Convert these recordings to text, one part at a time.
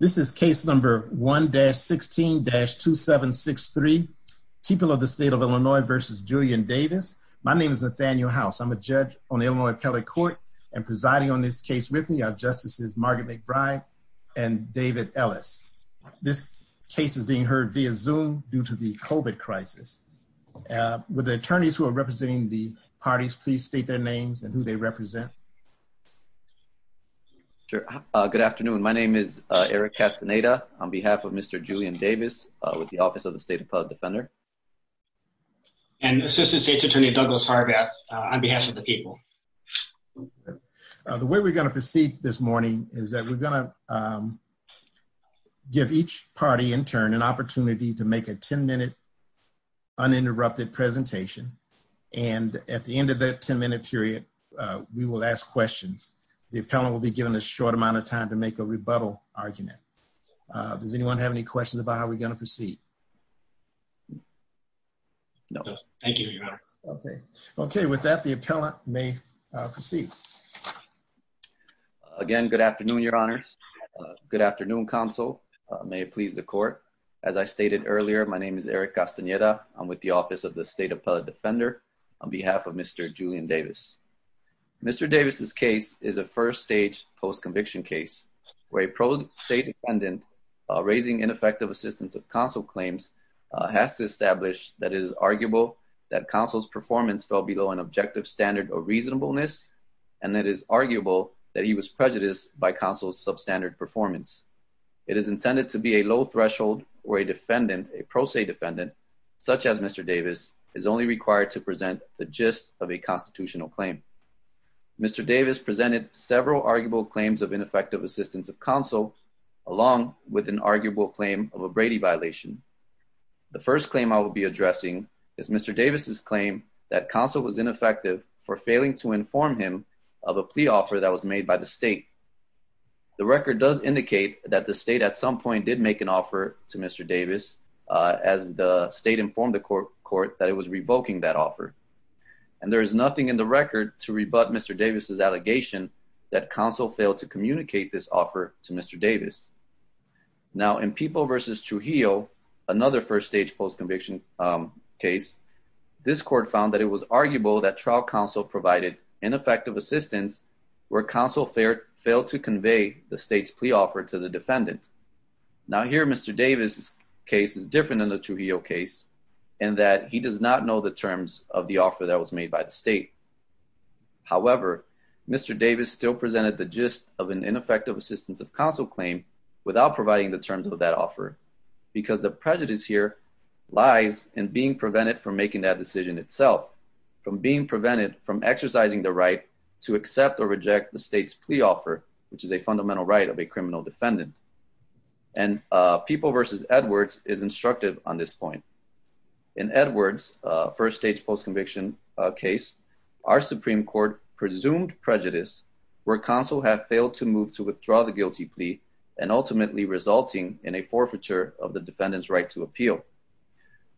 This is case number 1-16-2763. People of the State of Illinois versus Julian Davis. My name is Nathaniel House. I'm a judge on the Illinois Appellate Court and presiding on this case with me are Justices Margaret McBride and David Ellis. This case is being heard via Zoom due to the COVID crisis. Would the attorneys who are representing the parties please state their names and who they represent? Good afternoon. My name is Eric Castaneda on behalf of Mr. Julian Davis with the Office of the State Appellate Defender. And Assistant State's Attorney Douglas Hargatt on behalf of the people. The way we're going to proceed this morning is that we're going to give each party in turn an opportunity to make a 10-minute uninterrupted presentation and at the end of that 10-minute period we will ask questions. The appellant will be given a short amount of time to make a rebuttal argument. Does anyone have any questions about how we're going to proceed? No. Thank you, Your Honor. Okay, with that the appellant may proceed. Again, good afternoon, Your Honors. Good afternoon, counsel. May it please the court. As I stated earlier, my name is Eric Castaneda. I'm with the Office of the State Appellate Defender on behalf of Mr. Julian Davis. Mr. Davis's case is a first stage post-conviction case where a pro-state defendant raising ineffective assistance of counsel claims has to establish that it is arguable that counsel's performance fell below an objective standard of reasonableness and it is arguable that he was prejudiced by counsel's substandard performance. It is intended to be a low threshold where a defendant, a pro-state defendant, such as Mr. Davis, is only required to present the gist of a constitutional claim. Mr. Davis presented several arguable claims of ineffective assistance of counsel along with an arguable claim of a Brady violation. The first claim I will be addressing is Mr. Davis's claim that counsel was ineffective for failing to inform him of a plea offer that was that the state at some point did make an offer to Mr. Davis as the state informed the court that it was revoking that offer. And there is nothing in the record to rebut Mr. Davis's allegation that counsel failed to communicate this offer to Mr. Davis. Now in Peeble versus Trujillo, another first stage post-conviction case, this court found that it was arguable that trial counsel provided ineffective assistance where counsel failed to convey the state's plea offer to the defendant. Now here Mr. Davis's case is different than the Trujillo case in that he does not know the terms of the offer that was made by the state. However, Mr. Davis still presented the gist of an ineffective assistance of counsel claim without providing the terms of that offer because the prejudice here lies in being prevented from making that decision itself, from being prevented from exercising the right to accept or reject the state's plea offer, which is a fundamental right of a criminal defendant. And Peeble versus Edwards is instructive on this point. In Edwards first stage post-conviction case, our Supreme Court presumed prejudice where counsel had failed to move to withdraw the guilty plea and ultimately resulting in a forfeiture of the defendant's right to appeal.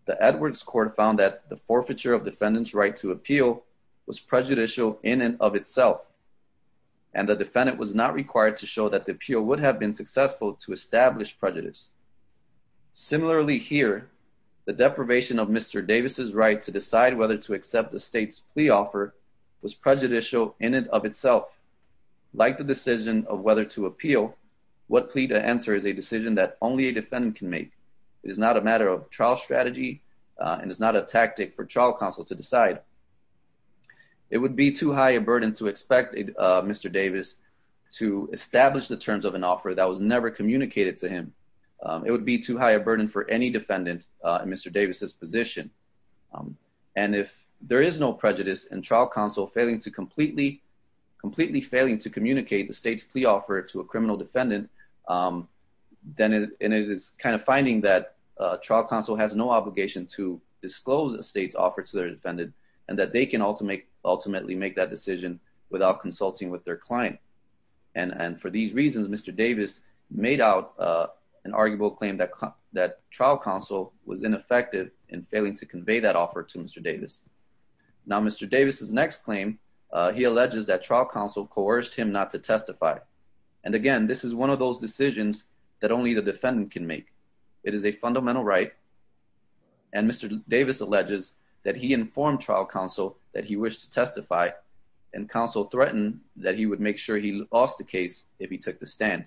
The Edwards court found that the forfeiture of defendant's right to appeal was prejudicial in and of itself and the defendant was not required to show that the appeal would have been successful to establish prejudice. Similarly here, the deprivation of Mr. Davis's right to decide whether to accept the state's plea offer was prejudicial in and of itself. Like the decision of whether to appeal, what plea to enter is a decision that only a defendant can make. It is not a matter of trial strategy and is not a tactic for trial counsel to decide. It would be too high a burden to expect Mr. Davis to establish the terms of an offer that was never communicated to him. It would be too high a burden for any defendant in Mr. Davis's position. And if there is no prejudice and trial counsel failing to completely, completely failing to communicate the state's plea offer to a criminal defendant, then it is kind of finding that trial counsel has no obligation to disclose a state's offer to their defendant and that they can ultimately make that decision without consulting with their client. And for these reasons, Mr. Davis made out an arguable claim that trial counsel was ineffective in failing to convey that offer to Mr. Davis. Now Mr. Davis's next claim, he alleges that trial counsel coerced him not to testify. And again, this is one of those decisions that only the defendant can make. It is a fundamental right. And Mr. Davis alleges that he informed trial counsel that he wished to testify and counsel threatened that he would make sure he lost the case if he took the stand.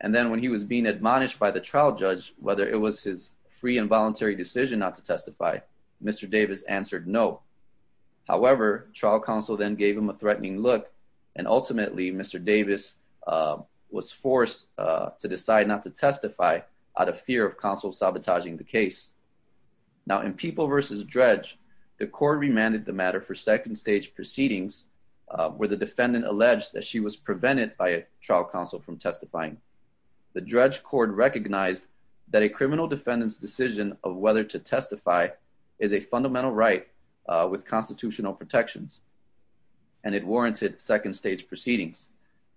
And then when he was being admonished by the trial judge, whether it was his free and voluntary decision not to testify, Mr. Davis answered no. However, trial counsel then gave him a threatening look and ultimately Mr. Davis was forced to decide not to testify out of fear of counsel sabotaging the case. Now in People v. Dredge, the court remanded the matter for second stage proceedings where the defendant alleged that she was prevented by a trial counsel from testifying. The Dredge court recognized that a criminal defendant's decision of whether to testify is a fundamental right with constitutional protections and it warranted second stage proceedings.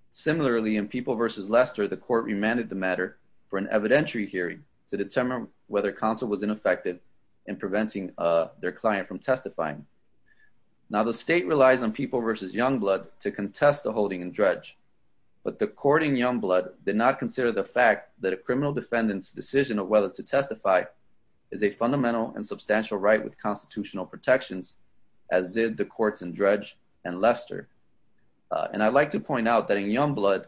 Similarly, in People v. Lester, the court remanded the matter for an evidentiary hearing to determine whether counsel was ineffective in preventing their client from testifying. Now the state relies on People v. Youngblood to contest the holding in Dredge, but the court in Youngblood did not consider the fact that a criminal defendant's decision of whether to testify is a fundamental and substantial right with constitutional protections as did the courts in Dredge and Lester. And I'd like to point out that in Youngblood,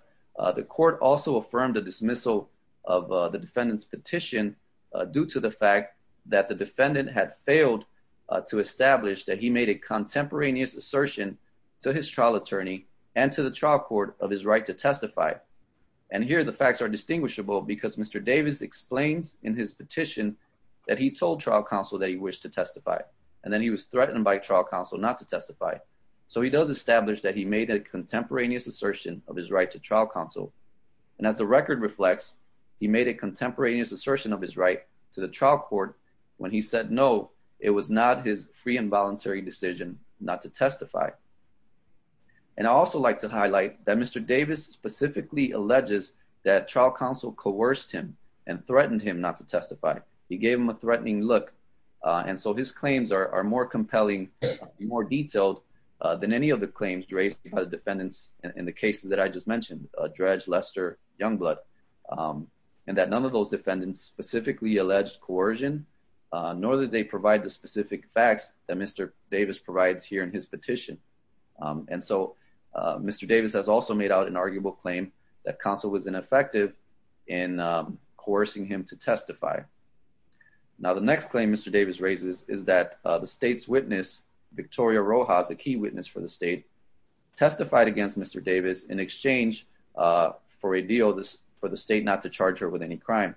the court also affirmed the dismissal of the defendant's petition due to the fact that the defendant had failed to establish that he made a contemporaneous assertion to his trial attorney and to the trial court of his right to testify. And here the facts are distinguishable because Mr. Davis explains in his petition that he told trial counsel that he wished to testify and then was threatened by trial counsel not to testify. So he does establish that he made a contemporaneous assertion of his right to trial counsel. And as the record reflects, he made a contemporaneous assertion of his right to the trial court when he said no, it was not his free and voluntary decision not to testify. And I'd also like to highlight that Mr. Davis specifically alleges that trial counsel coerced him and threatened him not to testify. He gave him a threatening look and so his claims are more compelling, more detailed than any of the claims raised by the defendants in the cases that I just mentioned, Dredge, Lester, Youngblood, and that none of those defendants specifically alleged coercion, nor did they provide the specific facts that Mr. Davis provides here in his petition. And so Mr. Davis has also made out an arguable claim that counsel was ineffective in coercing him to testify. Now, the next claim Mr. Davis raises is that the state's witness, Victoria Rojas, a key witness for the state, testified against Mr. Davis in exchange for a deal for the state not to charge her with any crime.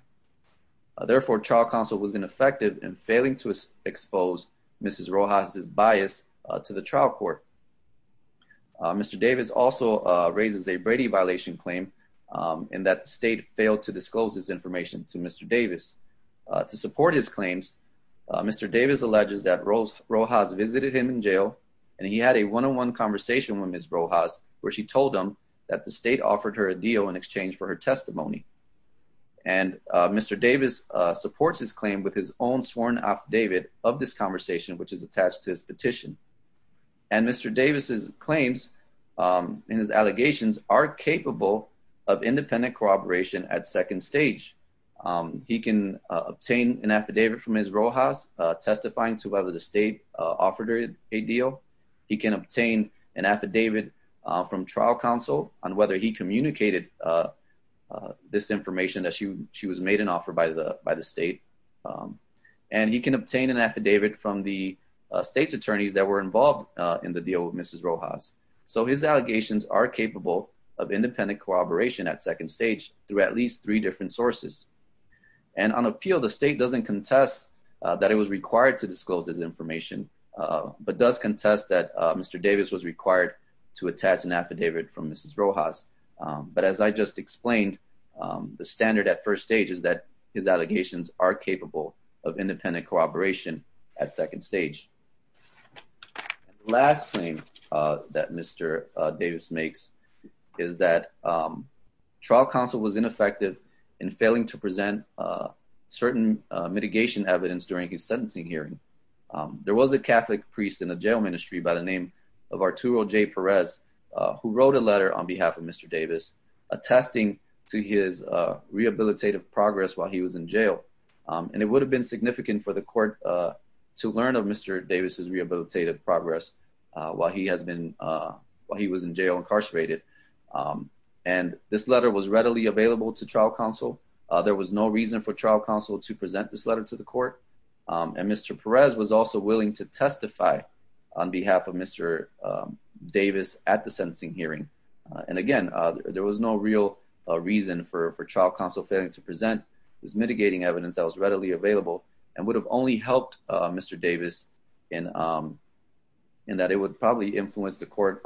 Therefore, trial counsel was ineffective in failing to expose Mrs. Rojas' bias to the trial court. Mr. Davis also raises a Brady violation claim in that the state failed to disclose this information to Mr. Davis. To support his claims, Mr. Davis alleges that Rojas visited him in jail and he had a one-on-one conversation with Mrs. Rojas where she told him that the state offered her a deal in exchange for her testimony. And Mr. Davis supports his claim with his own sworn affidavit of this conversation, which is attached to his petition. And Mr. Davis' claims and his allegations are capable of independent corroboration at second stage. He can obtain an affidavit from Mrs. Rojas testifying to whether the state offered her a deal. He can obtain an affidavit from trial counsel on whether he communicated this information that she was made an offer by the state. And he can obtain an affidavit from the state's attorneys that were involved in the deal with Mrs. Rojas. So his allegations are capable of independent corroboration at second stage through at least three different sources. And on appeal, the state doesn't contest that it was required to disclose this information, but does contest that Mr. Davis was required to attach an affidavit from Mrs. Rojas. But as I just explained, the standard at first stage is that his allegations are capable of independent corroboration at second stage. Last thing that Mr. Davis makes is that trial counsel was ineffective in failing to present certain mitigation evidence during his sentencing hearing. There was a Catholic priest in the jail ministry by the name of Arturo J. Perez, who wrote a letter on behalf of Mr. Davis, attesting to his rehabilitative progress while he was in jail. And it would have been significant for the court to learn of Mr. Davis's rehabilitative progress while he was in jail incarcerated. And this letter was readily available to trial counsel. There was no reason for trial counsel to present this letter to the court. And Mr. Perez was also willing to testify on behalf of Mr. Davis at the sentencing hearing. And again, there was no real reason for trial counsel failing to present this mitigating evidence that was readily available and would have only helped Mr. Davis in that it would probably influence the court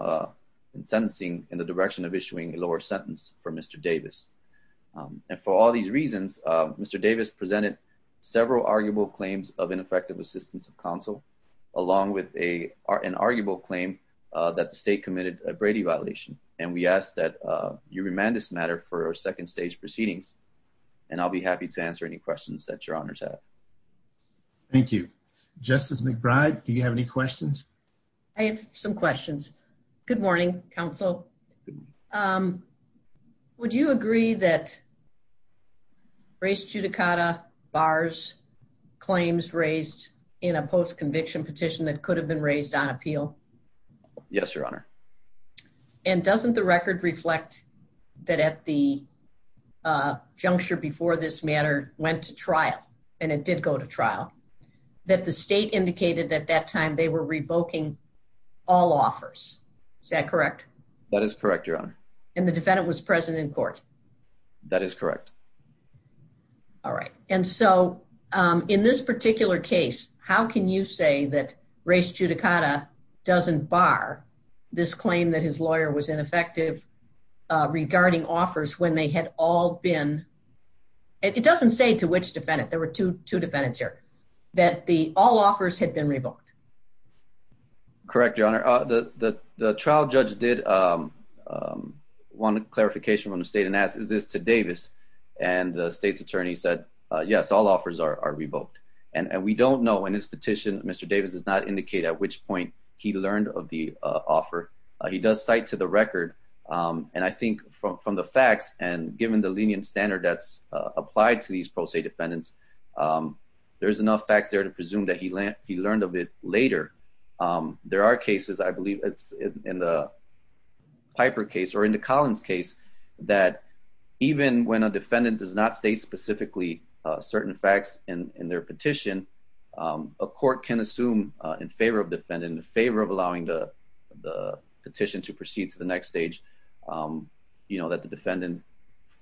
in sentencing in the direction of issuing a lower sentence for Mr. Davis. And for all these reasons, Mr. Davis presented several arguable claims of ineffective assistance of counsel, along with an arguable claim that the state committed a Brady violation. And we ask that you remand this matter for second stage proceedings. And I'll be happy to answer any questions that your honors have. Thank you. Justice McBride, do you have any questions? I have some questions. Good morning, counsel. Would you agree that race judicata bars claims raised in a post-conviction petition that could have been raised on appeal? Yes, your honor. And doesn't the record reflect that at the juncture before this matter went to trial and it did go to trial that the state indicated at that time they were revoking all offers? Is that correct? That is correct, your honor. And the defendant was present in court. That is correct. All right. And so, um, in this particular case, how can you say that race judicata doesn't bar this claim that his lawyer was ineffective regarding offers when they had all been? It doesn't say to which defendant there were 22 defendants here that the all offers had been revoked. Correct, your honor. The trial judge did want a clarification from the state and asked, is this to Davis? And the state's attorney said, yes, all offers are revoked. And we don't know when this petition, Mr. Davis does not indicate at which point he learned of the offer. He does cite to the record. And I think from the facts and given the lenient standard that's applied to these pro se defendants, there's enough facts there to presume that he learned of it later. There are cases, I believe it's in the Piper case or in the Collins case that even when a defendant does not state specifically certain facts in their petition, a court can assume in favor of defendant in favor of allowing the petition to proceed to the next stage. You know that the defendant,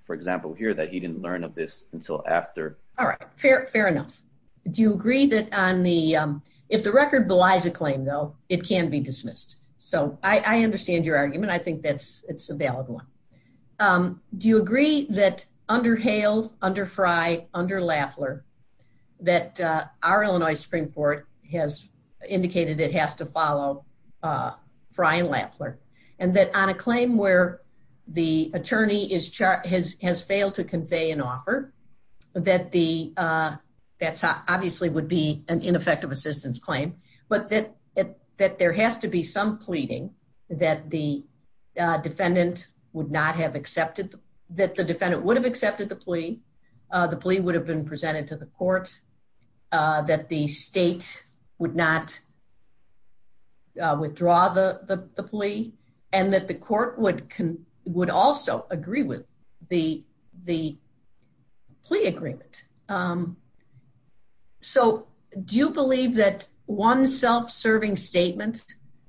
for example, here that he didn't learn of this until after. All right, fair, fair enough. Do you agree that on the if the record belies a claim, though, it can be dismissed. So I understand your argument. I think that's it's a valid one. Do you agree that under Hale, under Frye, under Laffler, that our Illinois Supreme Court has indicated it has to follow Frye and Laffler, and that on a claim where the attorney is chart has failed to convey an offer that the that's obviously would be an ineffective assistance claim, but that that there has to be some pleading that the defendant would not have accepted that the defendant would have accepted the plea. The plea would have been presented to the court that the the plea agreement. So do you believe that one self-serving statement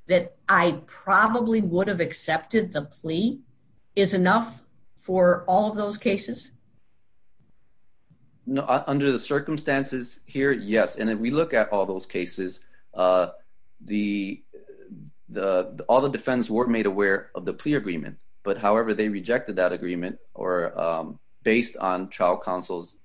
that I probably would have accepted the plea is enough for all of those cases. Under the circumstances here, yes. And if we look at all those cases, the the all the defense were made aware of the plea agreement. But however, they rejected that agreement or based on trial counsel's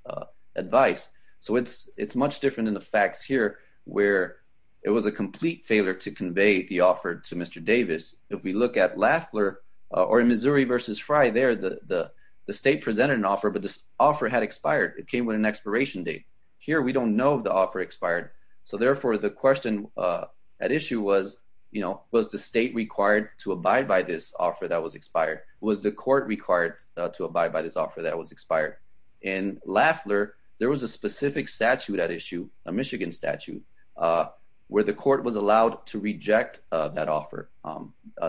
advice. So it's it's much different in the facts here where it was a complete failure to convey the offer to Mr. Davis. If we look at Laffler or Missouri versus Frye there, the the state presented an offer, but this offer had expired. It came with an expiration date here. We don't know the offer expired. So therefore, the question at issue was, you know, was the state required to abide by this offer that was expired? Was the court required to abide by this offer that was expired? In Laffler, there was a specific statute at issue, a Michigan statute, where the court was allowed to reject that offer.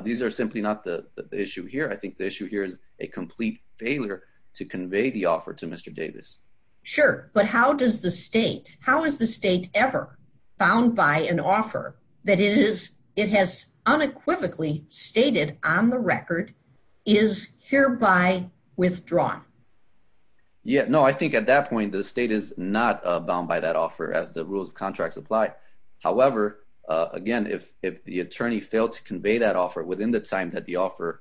These are simply not the issue here. I think the issue here is a complete failure to convey the offer to Mr. Davis. Sure. But how does the state, how is the state ever bound by an offer that it is it has unequivocally stated on the record is hereby withdrawn? Yeah, no, I think at that point, the state is not bound by that offer as the rules of contracts apply. However, again, if if the attorney failed to convey that offer within the time that the offer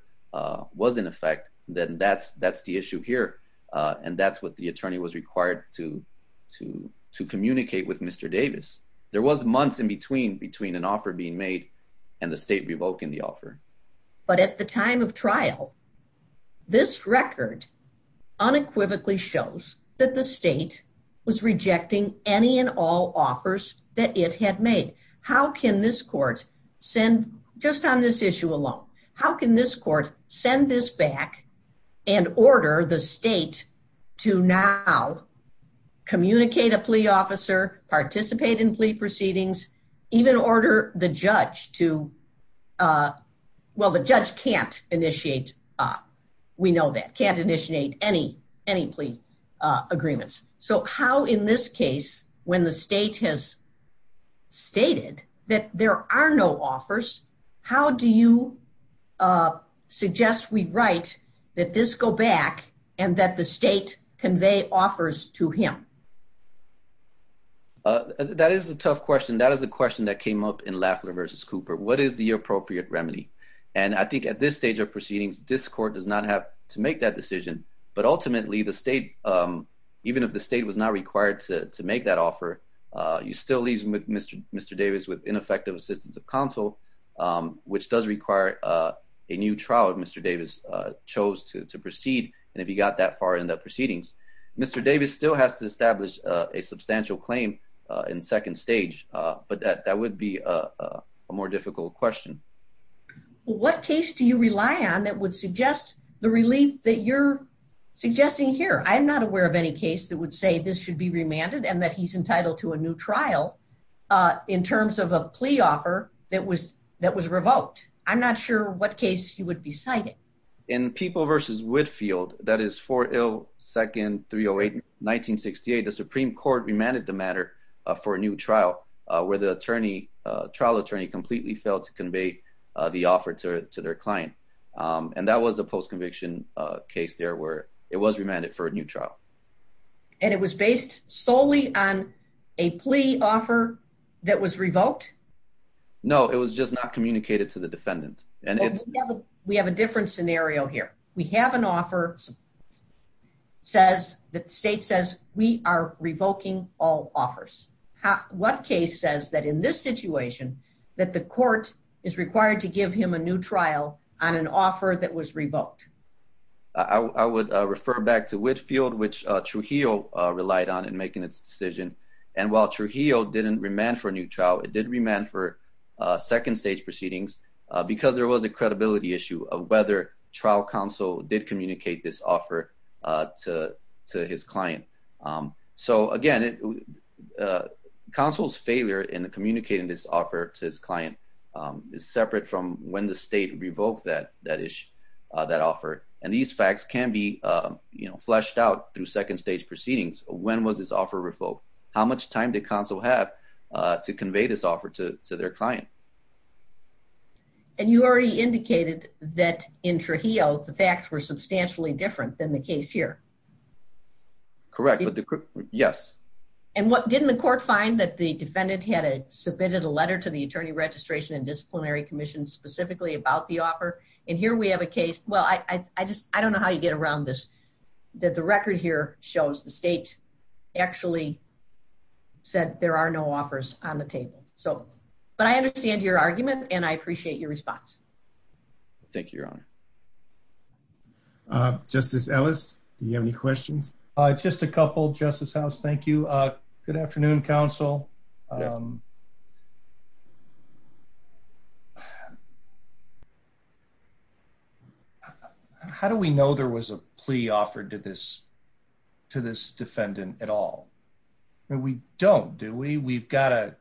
was in effect, then that's that's the issue here. And that's what the attorney was required to, to, to communicate with Mr. Davis, there was months in between between an offer being made, and the state revoking the offer. But at the time of trial, this record unequivocally shows that the state was rejecting any and all offers that it had made. How can this court send just on this issue alone? How can this court send this back and order the state to now communicate a plea officer participate in plea proceedings, even order the judge to? Well, the judge can't initiate, we know that can't initiate any, any plea agreements. So how in this case, when the state has stated that there are no offers, how do you suggest we write that this go back and that the state convey offers to him? That is a tough question. That is a question that came up in Lafleur versus Cooper, what is the appropriate remedy? And I think at this stage of proceedings, this court does not have to make that decision. But ultimately, the state, even if the state was not required to make that offer, you still leave Mr. Davis with ineffective assistance of counsel, which does require a new trial if Mr. Davis chose to proceed. And if you got that far in the proceedings, Mr. Davis still has to establish a substantial claim in second stage. But that would be a more difficult question. What case do you rely on that would suggest the relief that you're suggesting here? I'm not aware of any case that would say this should be remanded and that he's entitled to a new trial. In terms of a plea offer that was that was revoked. I'm not sure what case you would be citing. In people versus Whitfield, that is for ill second 308 1968. The Supreme Court remanded the matter for a new trial, where the attorney trial attorney completely failed to convey the offer to their client. And that was a post conviction case there were it was remanded for a new trial. And it was based solely on a plea offer that was revoked? No, it was just not communicated to the defendant. And we have a different scenario here. We have an offer says that state says we are revoking all offers. What case says that in this situation, that the court is required to give him a new trial on an offer that was revoked? I would refer back to Whitfield, which Trujillo relied on and making its decision. And while Trujillo didn't remand for a new trial, it did remand for second stage proceedings, because there was a credibility issue of whether trial counsel did communicate this offer to his client. So again, counsel's failure in communicating this offer to his client is separate from when the state revoked that that issue, that offer, and these facts can be, you know, fleshed out through second stage proceedings. When was this offer revoked? How much time to console have to convey this offer to their client? And you already indicated that in Trujillo, the facts were substantially different than the case here. Correct. Yes. And what didn't the court find that the defendant had a submitted a letter to the Attorney Registration and Disciplinary Commission specifically about the offer. And here we have a case. Well, I just, I don't know how you get around this, that the record here shows the state actually said there are no offers on the table. So, but I understand your argument and I appreciate your response. Thank you, Your Honor. Justice Ellis, do you have any comments on this case? How do we know there was a plea offered to this, to this defendant at all? We don't, do we? We've got a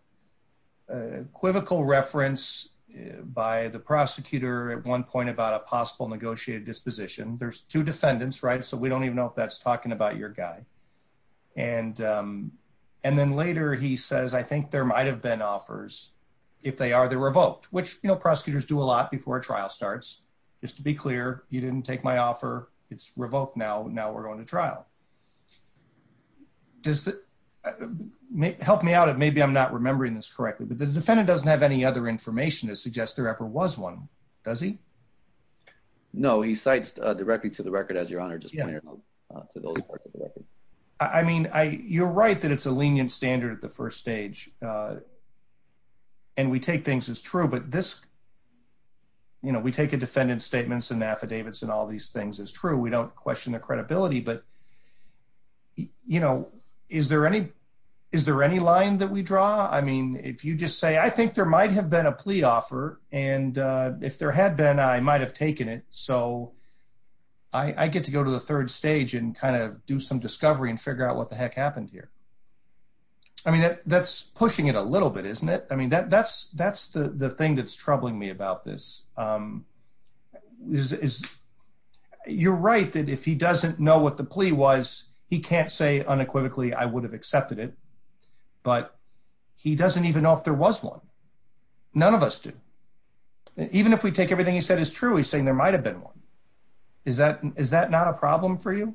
equivocal reference by the prosecutor at one point about a possible negotiated disposition. There's two defendants, right? So we don't even know if that's talking about your guy. And then later he says, I think there might've been offers. If they are, they're revoked, which, you know, prosecutors do a lot before a trial starts. Just to be clear, you didn't take my offer. It's revoked now. Now we're going to trial. Does that help me out? Maybe I'm not remembering this correctly, but the defendant doesn't have other information to suggest there ever was one, does he? No, he cites directly to the record, as Your Honor just pointed out, to those parts of the record. I mean, I, you're right that it's a lenient standard at the first stage and we take things as true, but this, you know, we take a defendant's statements and affidavits and all these things as true. We don't question their credibility, but you know, is there any, is there any line that we draw? I mean, if you just say, I think there might have been a plea offer and if there had been, I might've taken it. So I get to go to the third stage and kind of do some discovery and figure out what the heck happened here. I mean, that's pushing it a little bit, isn't it? I mean, that's the thing that's troubling me about this. You're right that if he doesn't know what the plea was, he can't say unequivocally, I would have accepted it, but he doesn't even know if there was one. None of us do. Even if we take everything he said as true, he's saying there might've been one. Is that, is that not a problem for you?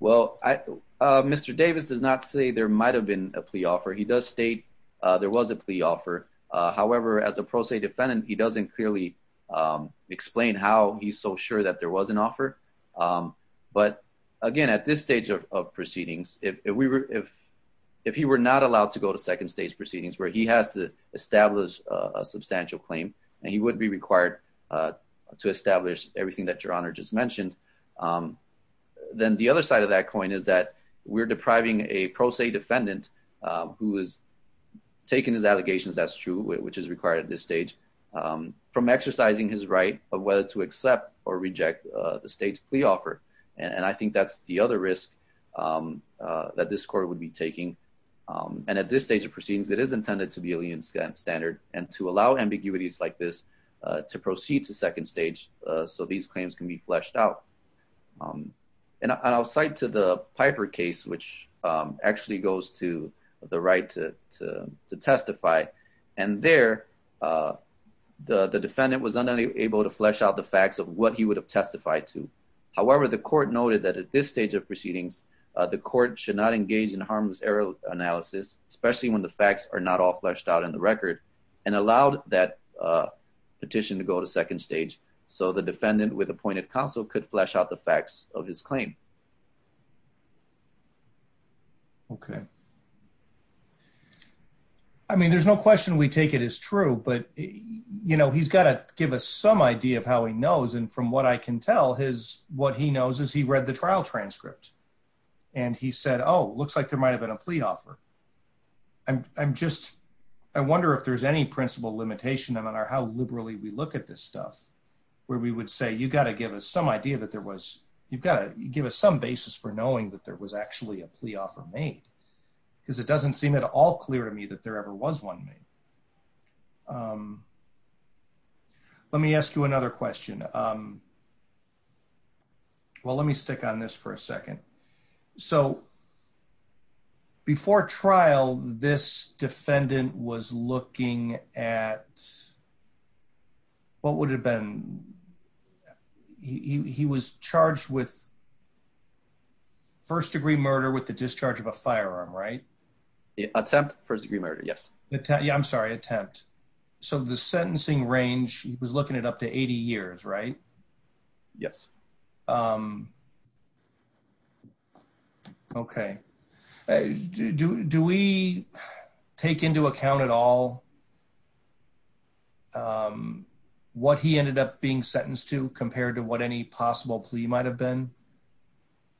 Well, I, Mr. Davis does not say there might've been a plea offer. He does state there was a plea offer. However, as a pro se defendant, he doesn't clearly explain how he's so sure that there was an offer. But again, at this stage of proceedings, if we were, if, if he were not allowed to go to second stage proceedings where he has to establish a substantial claim and he wouldn't be required to establish everything that your honor just mentioned. Then the other side of that coin is that we're depriving a pro se defendant who is taking his allegations as true, which is required at this stage from exercising his right of whether to accept or reject the state's plea offer. And I think that's the other risk that this court would be taking. And at this stage of proceedings, it is intended to be alien standard and to allow ambiguities like this to proceed to second stage. So these claims can be fleshed out. And I'll cite to the Piper case, which actually goes to the right to, to, to testify. And there the defendant was unable to flesh out the facts of what he would have testified to. However, the court noted that at this stage of proceedings, the court should not engage in harmless error analysis, especially when the facts are not all fleshed out in the record and allowed that petition to go to second stage. So the defendant with appointed counsel could flesh out the facts of his claim. Okay. I mean, there's no question we take it as true, but, you know, he's got to give us some idea of how he knows. And from what I can tell his, what he knows is he read the trial transcript and he said, Oh, it looks like there might've been a plea offer. I'm, I'm just, I wonder if there's any principle limitation on our, how liberally we look at this stuff where we would say, you got to give us some idea that there was, you've got to give us some basis for knowing that there was actually a plea offer made because it doesn't seem at all clear to me that there ever was one made. Let me ask you another question. Um, well, let me stick on this for a second. So before trial, this defendant was looking at, what would it have been? He was charged with first degree murder with the discharge of a firearm, right? Yeah. Attempt first degree murder. Yes. Yeah. I'm sorry. Attempt. So the sentencing range, he was looking at up to 80 years, right? Yes. Um, okay. Do, do we take into account at all? Um, what he ended up being sentenced to compared to what any possible plea might've been.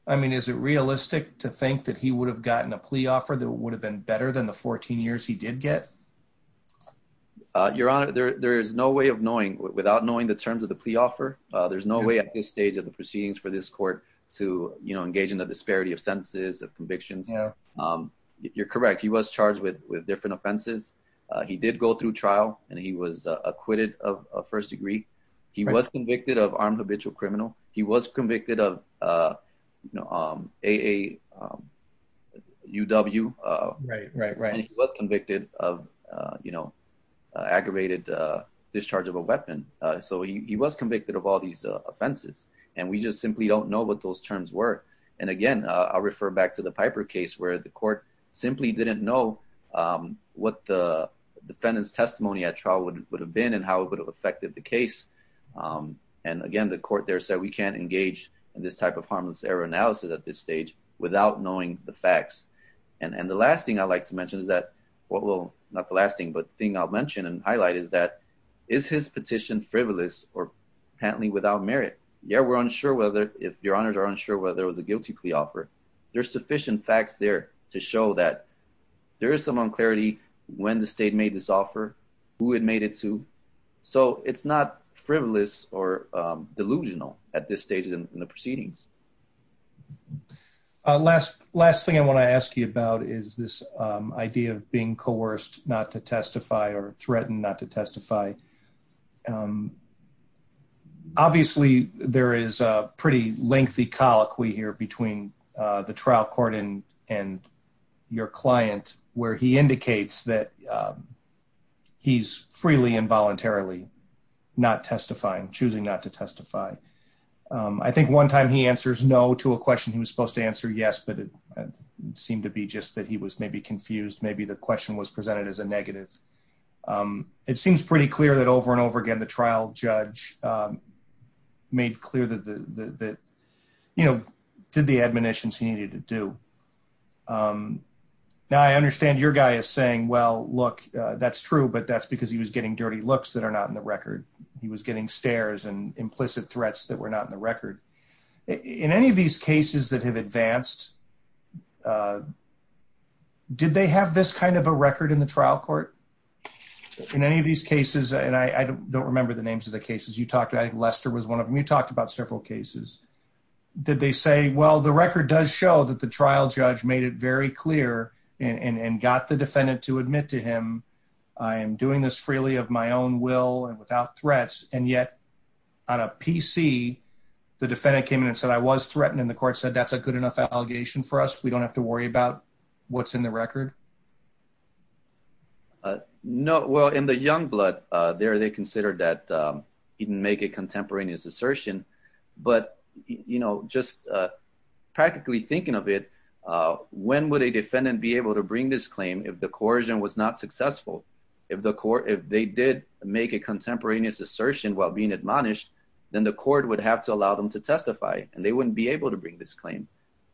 I mean, is it realistic to think that he would have gotten a plea offer that would have been better than the 14 years he did get? Uh, your honor, there, there is no way of knowing without knowing the terms of the plea offer. Uh, there's no way at this stage of the proceedings for this court to, you know, engage in the disparity of sentences of convictions. Um, you're correct. He was charged with, with different offenses. Uh, he did go through trial and he was acquitted of first degree. He was convicted of armed habitual criminal. He was convicted of, uh, you know, um, AA, um, UW, uh, right, right, right. He was convicted of, uh, you know, uh, aggravated, uh, discharge of a weapon. Uh, so he, he was convicted of all these offenses and we just simply don't know what those terms were. And again, uh, I'll refer back to the Piper case where the court simply didn't know, um, what the defendant's testimony at trial would have been and how it would have affected the case. Um, and again, the court there said we can't engage in type of harmless error analysis at this stage without knowing the facts. And the last thing I'd like to mention is that what will not the last thing, but thing I'll mention and highlight is that is his petition frivolous or panting without merit. Yeah. We're unsure whether if your honors are unsure whether it was a guilty plea offer, there's sufficient facts there to show that there is some unclarity when the state made this offer, who had made it to. So it's not frivolous or delusional at this stage in the proceedings. Uh, last, last thing I want to ask you about is this, um, idea of being coerced not to testify or threatened not to testify. Um, obviously there is a pretty lengthy colloquy here between, uh, the trial court and, and your client where he indicates that, um, he's freely and voluntarily not testifying, choosing not to testify. Um, I think one time he answers no to a question he was supposed to answer. Yes, but it seemed to be just that he was maybe confused. Maybe the question was presented as a negative. Um, it seems pretty clear that over and over again, the trial judge, um, made clear that the, that, you know, did the look, uh, that's true, but that's because he was getting dirty looks that are not in the record. He was getting stairs and implicit threats that were not in the record in any of these cases that have advanced. Uh, did they have this kind of a record in the trial court in any of these cases? And I, I don't remember the names of the cases you talked to. I think Lester was one of them. You talked about several cases. Did they say, well, the record does show that the trial judge made it very clear and, and, and got the defendant to admit to him, I am doing this freely of my own will and without threats. And yet on a PC, the defendant came in and said, I was threatened. And the court said, that's a good enough allegation for us. We don't have to worry about what's in the record. Uh, no, well in the young blood, uh, there, they considered that, um, he didn't make a contemporaneous assertion, but, you know, just, practically thinking of it, uh, when would a defendant be able to bring this claim? If the coercion was not successful, if the court, if they did make a contemporaneous assertion while being admonished, then the court would have to allow them to testify and they wouldn't be able to bring this claim.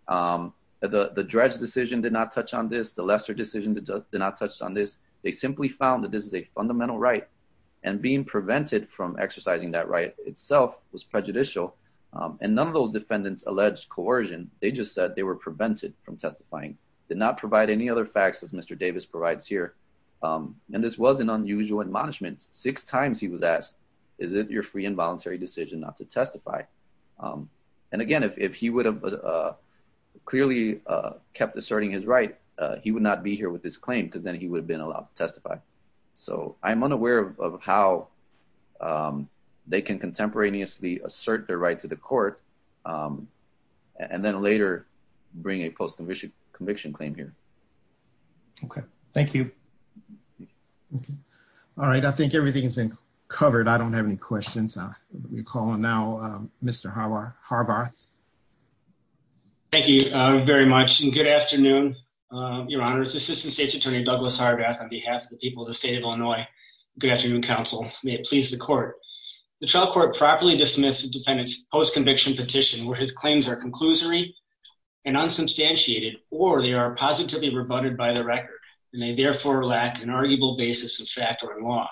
Um, the, the dredge decision did not touch on this. The Lester decision did not touch on this. They simply found that this is a fundamental right and being prevented from just said they were prevented from testifying, did not provide any other facts as Mr. Davis provides here. Um, and this was an unusual admonishment. Six times he was asked, is it your free and voluntary decision not to testify? Um, and again, if, if he would have, uh, clearly, uh, kept asserting his right, uh, he would not be here with this claim because then he would have been allowed to testify. So I'm unaware of, of how, um, they can contemporaneously assert their right to the court. Um, and then later bring a post-conviction conviction claim here. Okay. Thank you. Okay. All right. I think everything has been covered. I don't have any questions. Uh, we call on now, um, Mr. Harbarth. Thank you very much. And good afternoon. Your honors, assistant state's attorney, Douglas Harbarth on behalf of the people of the state of post-conviction petition, where his claims are conclusory and unsubstantiated, or they are positively rebutted by the record. And they therefore lack an arguable basis of fact or in law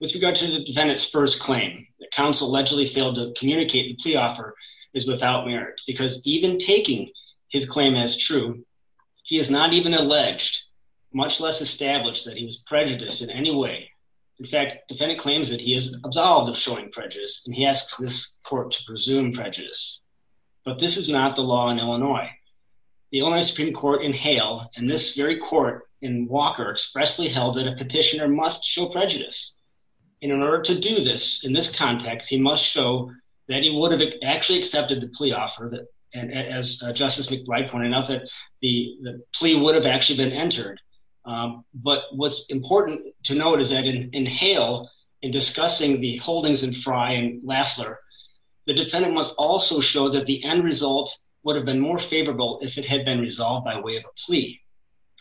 with regard to the defendant's first claim. The council allegedly failed to communicate and plea offer is without merit because even taking his claim as true, he has not even alleged much less established that he was prejudiced in any way. In fact, defendant claims that he is absolved of showing prejudice. And he asks this court to presume prejudice, but this is not the law in Illinois. The only Supreme court in Hale and this very court in Walker expressly held that a petitioner must show prejudice in order to do this in this context, he must show that he would have actually accepted the plea offer that, and as justice McBride pointed out that the plea would have actually been entered. Um, but what's important to note is that in Hale in discussing the holdings in Fry and Laffler, the defendant must also show that the end result would have been more favorable if it had been resolved by way of a plea.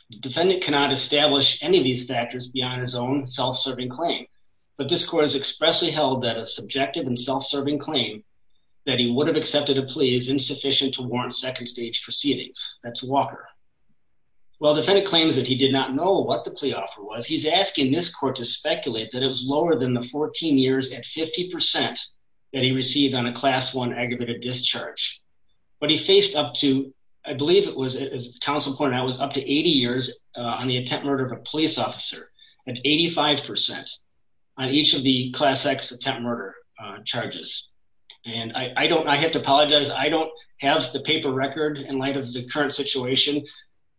The defendant cannot establish any of these factors beyond his own self-serving claim. But this court has expressly held that a subjective and self-serving claim that he would have accepted a plea is insufficient to warrant second stage proceedings. That's Walker. Well, defendant claims that he did not know what the plea offer was. He's lower than the 14 years at 50% that he received on a class one aggravated discharge, but he faced up to, I believe it was as counsel pointed out was up to 80 years on the attempt murder of a police officer at 85% on each of the class X attempt murder charges. And I don't, I have to apologize. I don't have the paper record in light of the current situation,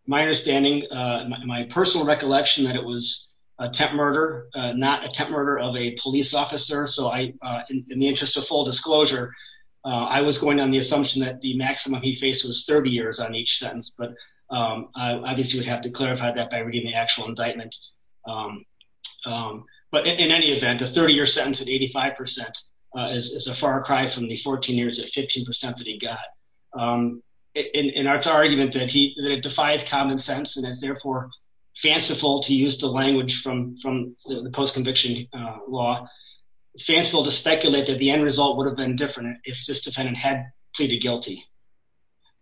my understanding, my personal recollection that it was a temp murder, not a temp murder of a police officer. So I, in the interest of full disclosure, I was going on the assumption that the maximum he faced was 30 years on each sentence, but I obviously would have to clarify that by reading the actual indictment. But in any event, a 30 year sentence at 85% is a far cry from the 14 years at 15% that he got in our argument that he defies common sense and is therefore fanciful to use the language from, from the post conviction law. It's fanciful to speculate that the end result would have been different if this defendant had pleaded guilty.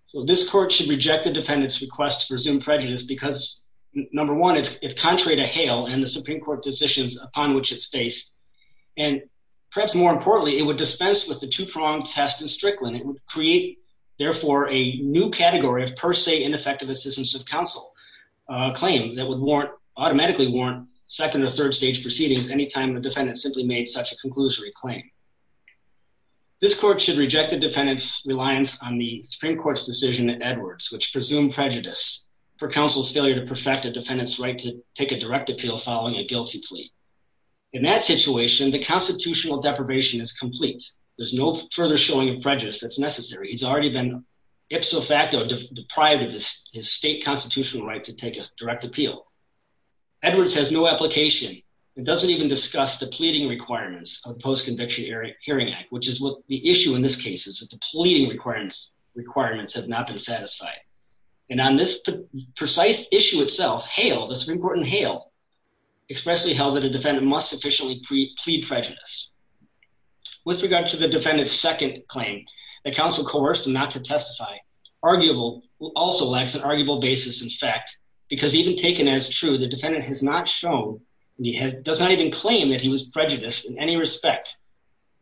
So this court should reject the defendant's request to resume prejudice because number one, it's contrary to hail and the Supreme court decisions upon which it's based. And perhaps more importantly, it would dispense with the test and Strickland. It would create therefore a new category of per se, ineffective assistance of counsel, a claim that would warrant automatically warrant second or third stage proceedings. Anytime the defendant simply made such a conclusory claim, this court should reject the defendant's reliance on the Supreme court's decision at Edwards, which presumed prejudice for counsel's failure to perfect a defendant's right to take a direct appeal following a guilty plea. In that situation, the constitutional deprivation is complete. There's no further showing of prejudice that's necessary. He's already been ipso facto deprived of his state constitutional right to take a direct appeal. Edwards has no application. It doesn't even discuss the pleading requirements of post conviction hearing hearing act, which is what the issue in this case is that the pleading requirements requirements have not been satisfied. And on this precise issue itself, hail, that's an important hail expressly held that a defendant must sufficiently pre plead prejudice with regard to the defendant's second claim that counsel coerced him not to testify. Arguable will also lacks an arguable basis. In fact, because even taken as true, the defendant has not shown, and he does not even claim that he was prejudiced in any respect.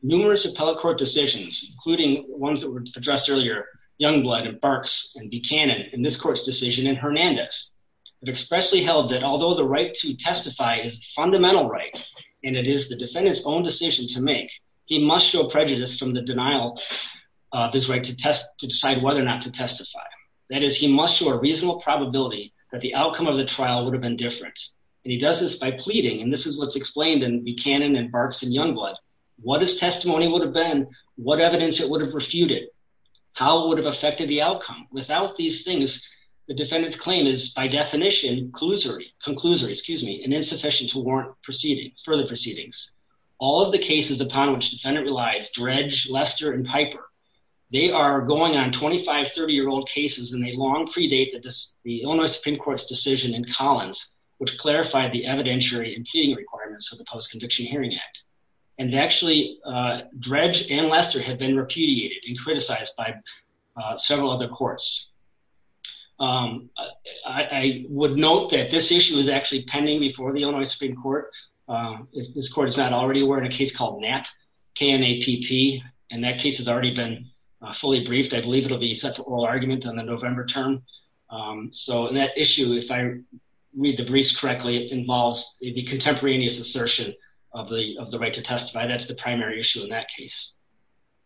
Numerous appellate court decisions, including ones that were addressed earlier, young blood and barks and Buchanan in this court's decision in Hernandez. It expressly held that although the right to He must show prejudice from the denial of his right to test to decide whether or not to testify. That is, he must show a reasonable probability that the outcome of the trial would have been different. And he does this by pleading. And this is what's explained and Buchanan and barks and young blood. What is testimony would have been what evidence that would have refuted how it would have affected the outcome without these things. The defendant's claim is by definition, conclusory, excuse me, and insufficient to warrant proceeding further proceedings. All of the cases upon which defendant relies dredge, Lester and Piper. They are going on 2530 year old cases and they long predate that the Illinois Supreme Court's decision in Collins, which clarified the evidentiary impeding requirements of the Post Conviction Hearing Act. And actually, dredge and Lester had been repudiated and criticized by Um, I would note that this issue is actually pending before the Illinois Supreme Court. Um, if this court is not already aware in a case called nap can a PP and that case has already been fully briefed. I believe it will be set for oral argument on the November term. Um, so that issue, if I read the briefs correctly, it involves the contemporaneous assertion of the, of the right to testify. That's the primary issue in that case.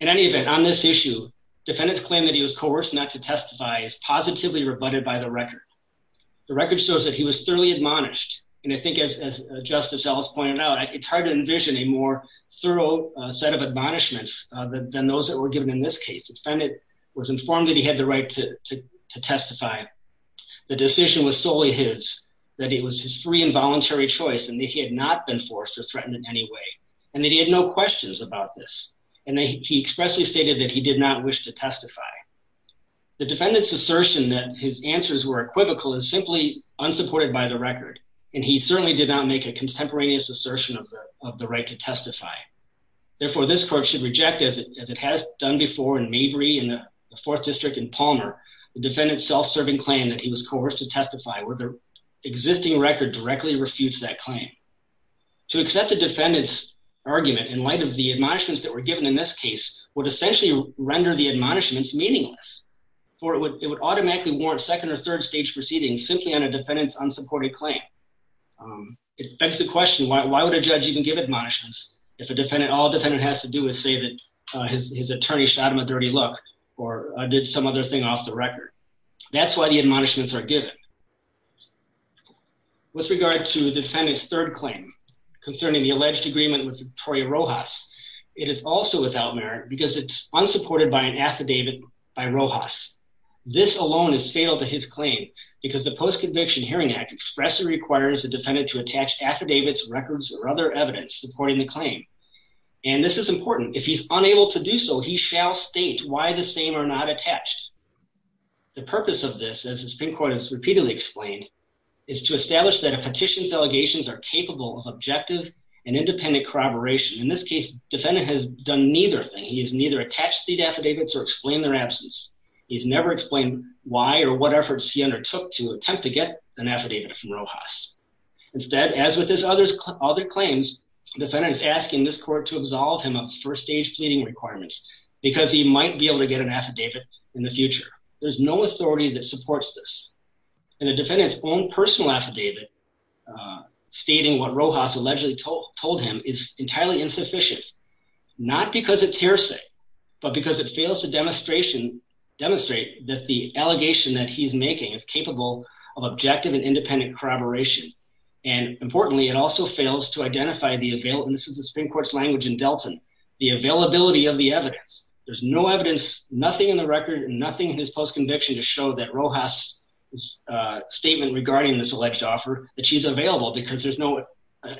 In any event, on this issue, defendants claim that he was coerced not to testify positively rebutted by the record. The record shows that he was thoroughly admonished. And I think as, as justice Ellis pointed out, it's hard to envision a more thorough set of admonishments than those that were given in this case. The defendant was informed that he had the right to testify. The decision was solely his, that it was his free and voluntary choice. And if he had not been forced to threaten in any way, and that he had no questions about this. And then he expressly stated that he did not wish to testify. The defendant's assertion that his answers were equivocal is simply unsupported by the record. And he certainly did not make a contemporaneous assertion of the, of the right to testify. Therefore, this court should reject as it, as it has done before in Maybury and the fourth district in Palmer, the defendant self-serving claim that he was coerced to testify where the existing record directly refutes that claim. To accept the defendant's argument in light of the admonishments that were given in this case would essentially render the admonishments meaningless. Or it would, it would automatically warrant second or third stage proceedings simply on a defendant's unsupported claim. It begs the question, why would a judge even give admonishments if a defendant, all defendant has to do is say that his attorney shot him a dirty look or did some other thing off the record. That's why the admonishments are given. With regard to the defendant's third claim concerning the alleged agreement with Victoria Rojas, it is also without merit because it's unsupported by an affidavit by Rojas. This alone is fatal to his claim because the Post-Conviction Hearing Act expressly requires the defendant to attach affidavits, records, or other evidence supporting the claim. And this is important. If he's unable to do so, he shall state why the same affidavits are not attached. The purpose of this, as the Supreme Court has repeatedly explained, is to establish that a petition's allegations are capable of objective and independent corroboration. In this case, defendant has done neither thing. He has neither attached the affidavits or explained their absence. He's never explained why or what efforts he undertook to attempt to get an affidavit from Rojas. Instead, as with his other claims, defendant is asking this court to absolve him of in the future. There's no authority that supports this. And the defendant's own personal affidavit stating what Rojas allegedly told him is entirely insufficient, not because it's hearsay, but because it fails to demonstrate that the allegation that he's making is capable of objective and independent corroboration. And importantly, it also fails to identify the availability, and this is the Supreme Court's language in Delton, the availability of the evidence. There's no evidence, nothing in the record, nothing in his post-conviction to show that Rojas' statement regarding this alleged offer, that she's available because there's no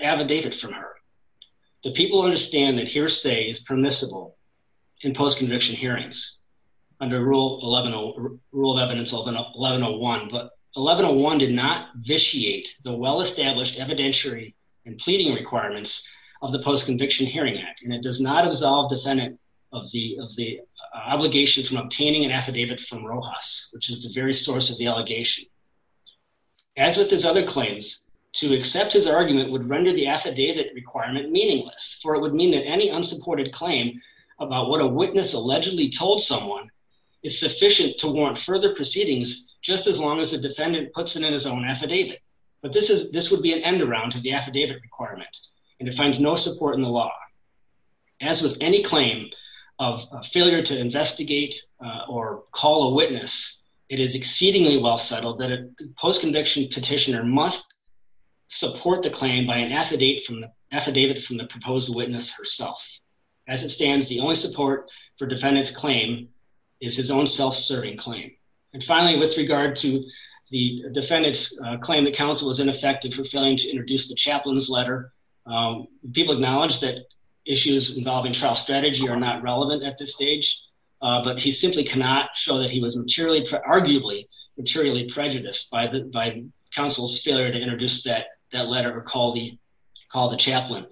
affidavit from her. The people understand that hearsay is permissible in post-conviction hearings under Rule of Evidence 1101, but 1101 did not vitiate the well-established evidentiary and pleading requirements of the Post-Conviction Hearing Act, and it does not absolve defendant of the obligation from obtaining an affidavit from Rojas, which is the very source of the allegation. As with his other claims, to accept his argument would render the affidavit requirement meaningless, for it would mean that any unsupported claim about what a witness allegedly told someone is sufficient to warrant further proceedings just as long as the defendant puts it in his own affidavit. But this would be an end-around to the affidavit requirement, and it finds no support in the law. As with any claim of failure to investigate or call a witness, it is exceedingly well settled that a post-conviction petitioner must support the claim by an affidavit from the proposed witness herself. As it stands, the only support for defendant's claim is his own self-serving claim. And finally, with regard to the defendant's claim that counsel was ineffective for failing to introduce the chaplain's letter, people acknowledge that issues involving trial strategy are not relevant at this stage, but he simply cannot show that he was arguably materially prejudiced by counsel's failure to introduce that letter or call the chaplain.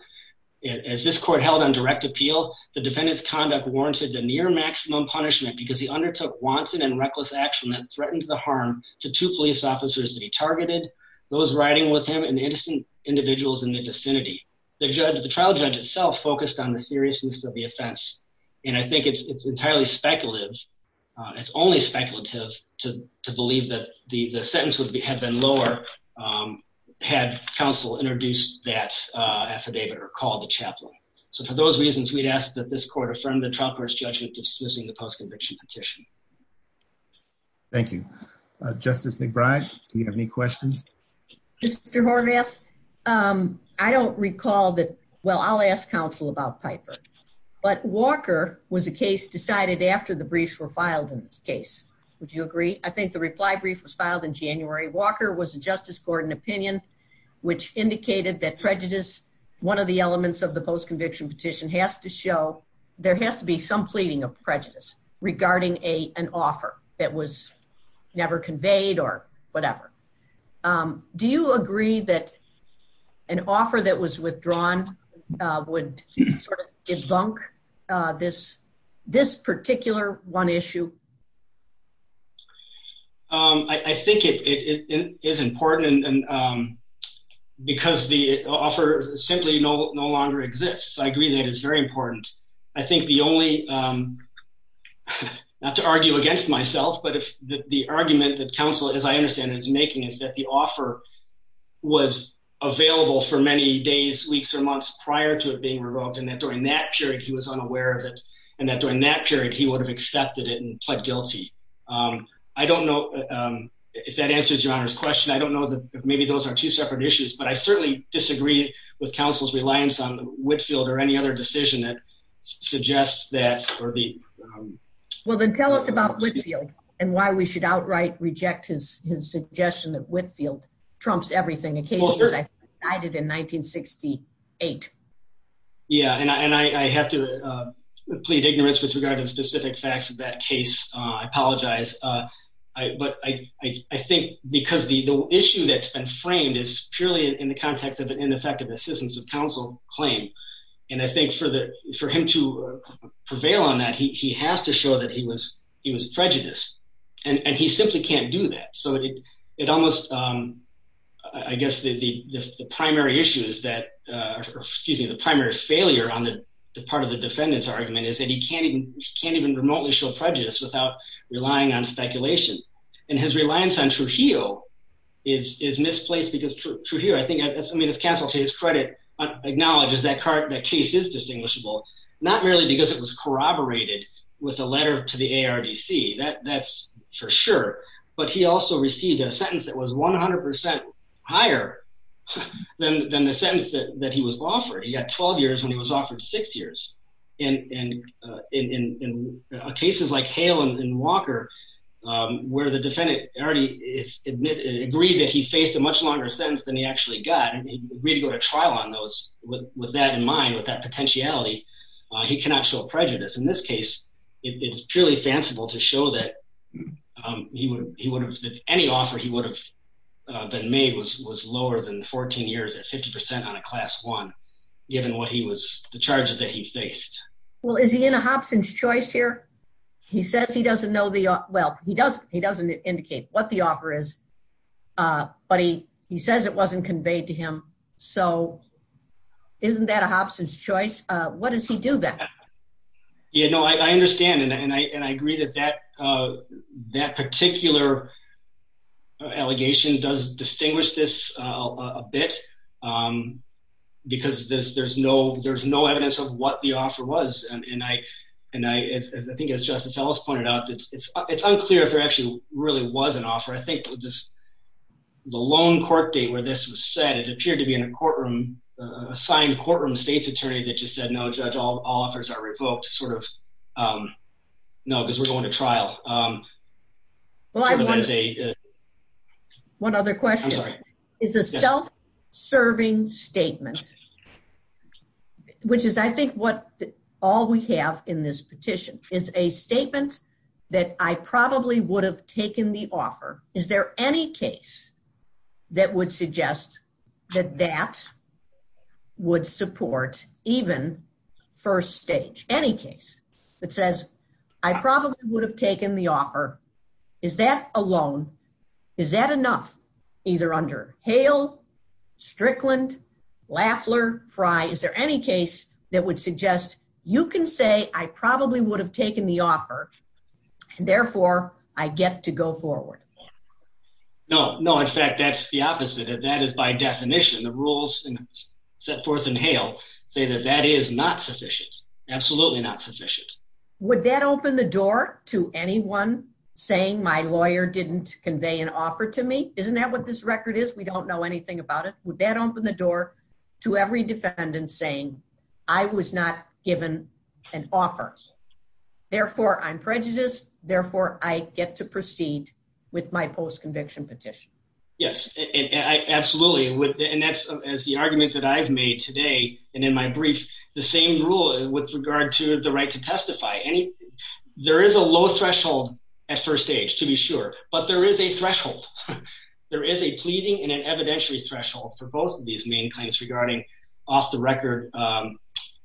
As this court held on direct appeal, the defendant's conduct warranted the near maximum punishment because he undertook wanton and reckless action that threatened the harm to two police officers that he targeted, those riding with him, and the innocent individuals in the vicinity. The trial judge itself focused on the seriousness of the offense, and I think it's entirely speculative. It's only speculative to believe that the sentence had been lower had counsel introduced that affidavit or called the chaplain. So for those reasons, we'd ask that this court affirm the trial court's judgment dismissing the post-conviction petition. Thank you. Justice McBride, do you have any questions? Mr. Horvath, I don't recall that, well, I'll ask counsel about Piper, but Walker was a case decided after the briefs were filed in this case. Would you agree? I think the reply brief was filed in January. Walker was a justice court in opinion which indicated that prejudice, one of the elements of the post-conviction petition, has to show there has to be some pleading of prejudice regarding an offer that was never conveyed or whatever. Do you agree that an offer that was withdrawn would sort of debunk this particular one issue? I think it is important because the offer simply no longer exists. I agree that it's very important. I think the only, not to argue against myself, but if the argument that counsel, as I understand it, is making is that the offer was available for many days, weeks, or months prior to it being revoked and that during that period he was unaware of it and that during that period he would have accepted it and pled guilty. I don't know if that answers your honor's question. I don't know that maybe those are separate issues, but I certainly disagree with counsel's reliance on Whitfield or any other decision that suggests that. Well then tell us about Whitfield and why we should outright reject his suggestion that Whitfield trumps everything. The case was decided in 1968. Yeah and I have to plead ignorance with regard to specific facts of that case. I apologize. But I think because the issue that's been framed is purely in the context of an ineffective assistance of counsel claim and I think for him to prevail on that, he has to show that he was prejudiced and he simply can't do that. So it almost, I guess the primary issue is that, excuse me, the primary failure on the part of the defendant's argument is that he can't even remotely show prejudice without relying on speculation and his reliance on Trujillo is misplaced because Trujillo, I think, I mean it's counsel to his credit acknowledges that that case is distinguishable not merely because it was corroborated with a letter to the ARDC, that's for sure, but he also received a sentence that was 100 percent higher than the sentence that he was offered. He got 12 years when he was offered six years and in cases like Hale and Walker where the defendant already is admitted, agreed that he faced a much longer sentence than he actually got and agreed to go to trial on those with that in mind, with that potentiality, he cannot show prejudice. In this case, it's purely fanciful to show that he would have, any offer he would have been made was lower than 14 years at 50 percent on a class one given what he was, the charges that he faced. Well, is he in a Hobson's choice here? He says he doesn't know the, well he doesn't, he doesn't indicate what the offer is but he says it wasn't conveyed to him so isn't that a Hobson's choice? What does he do then? Yeah, no, I understand and I agree that that particular allegation does distinguish this a bit because there's no evidence of what the offer was and I think as Justice Ellis pointed out, it's unclear if there actually really was an offer. I think just the loan court date where this was said, it appeared to be in a courtroom, a signed courtroom state's attorney that just said no judge, all offers are revoked sort of, no because we're going to trial. Well, I wonder, one other question, is a self-serving statement, which is I think what all we have in this petition, is a statement that I probably would have taken the offer, is there any case that would suggest that that would support even first stage, any case that says I probably would have taken the offer, is that a loan, is that enough either under Hale, Strickland, Lafler, Frye, is there any case that would suggest you can say I probably would have taken the offer and therefore I get to go forward? No, no, in fact that's the opposite of that is by say that that is not sufficient, absolutely not sufficient. Would that open the door to anyone saying my lawyer didn't convey an offer to me? Isn't that what this record is? We don't know anything about it. Would that open the door to every defendant saying I was not given an offer, therefore I'm prejudiced, therefore I get to proceed with my post-conviction petition? Yes, absolutely, and that's as the argument that I've made today and in my brief the same rule with regard to the right to testify. There is a low threshold at first stage to be sure, but there is a threshold, there is a pleading and an evidentiary threshold for both of these main claims regarding off the record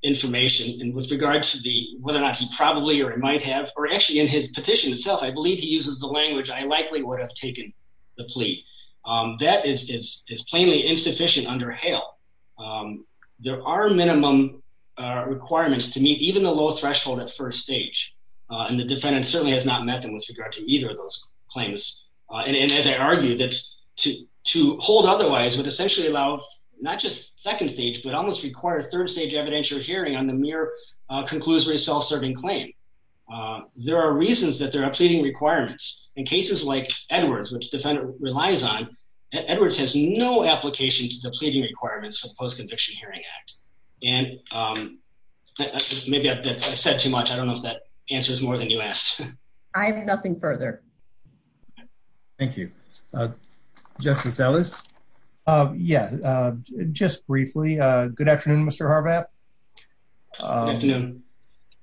information and with regard to the whether or not he probably or might have or actually in his petition itself I believe he uses the language I likely would have taken the plea. That is plainly insufficient under HALE. There are minimum requirements to meet even the low threshold at first stage and the defendant certainly has not met them with regard to either of those claims and as I argued that's to hold otherwise would essentially allow not just second stage but almost require third stage evidentiary hearing on the mere conclusory self-serving claim. There are reasons that there are pleading requirements in cases like Edwards which defendant relies on, Edwards has no application to the pleading requirements for the Post-Conviction Hearing Act and maybe I said too much I don't know if that answers more than you asked. I have nothing further. Thank you. Justice Ellis? Yeah, just briefly, good afternoon Mr. Harbath.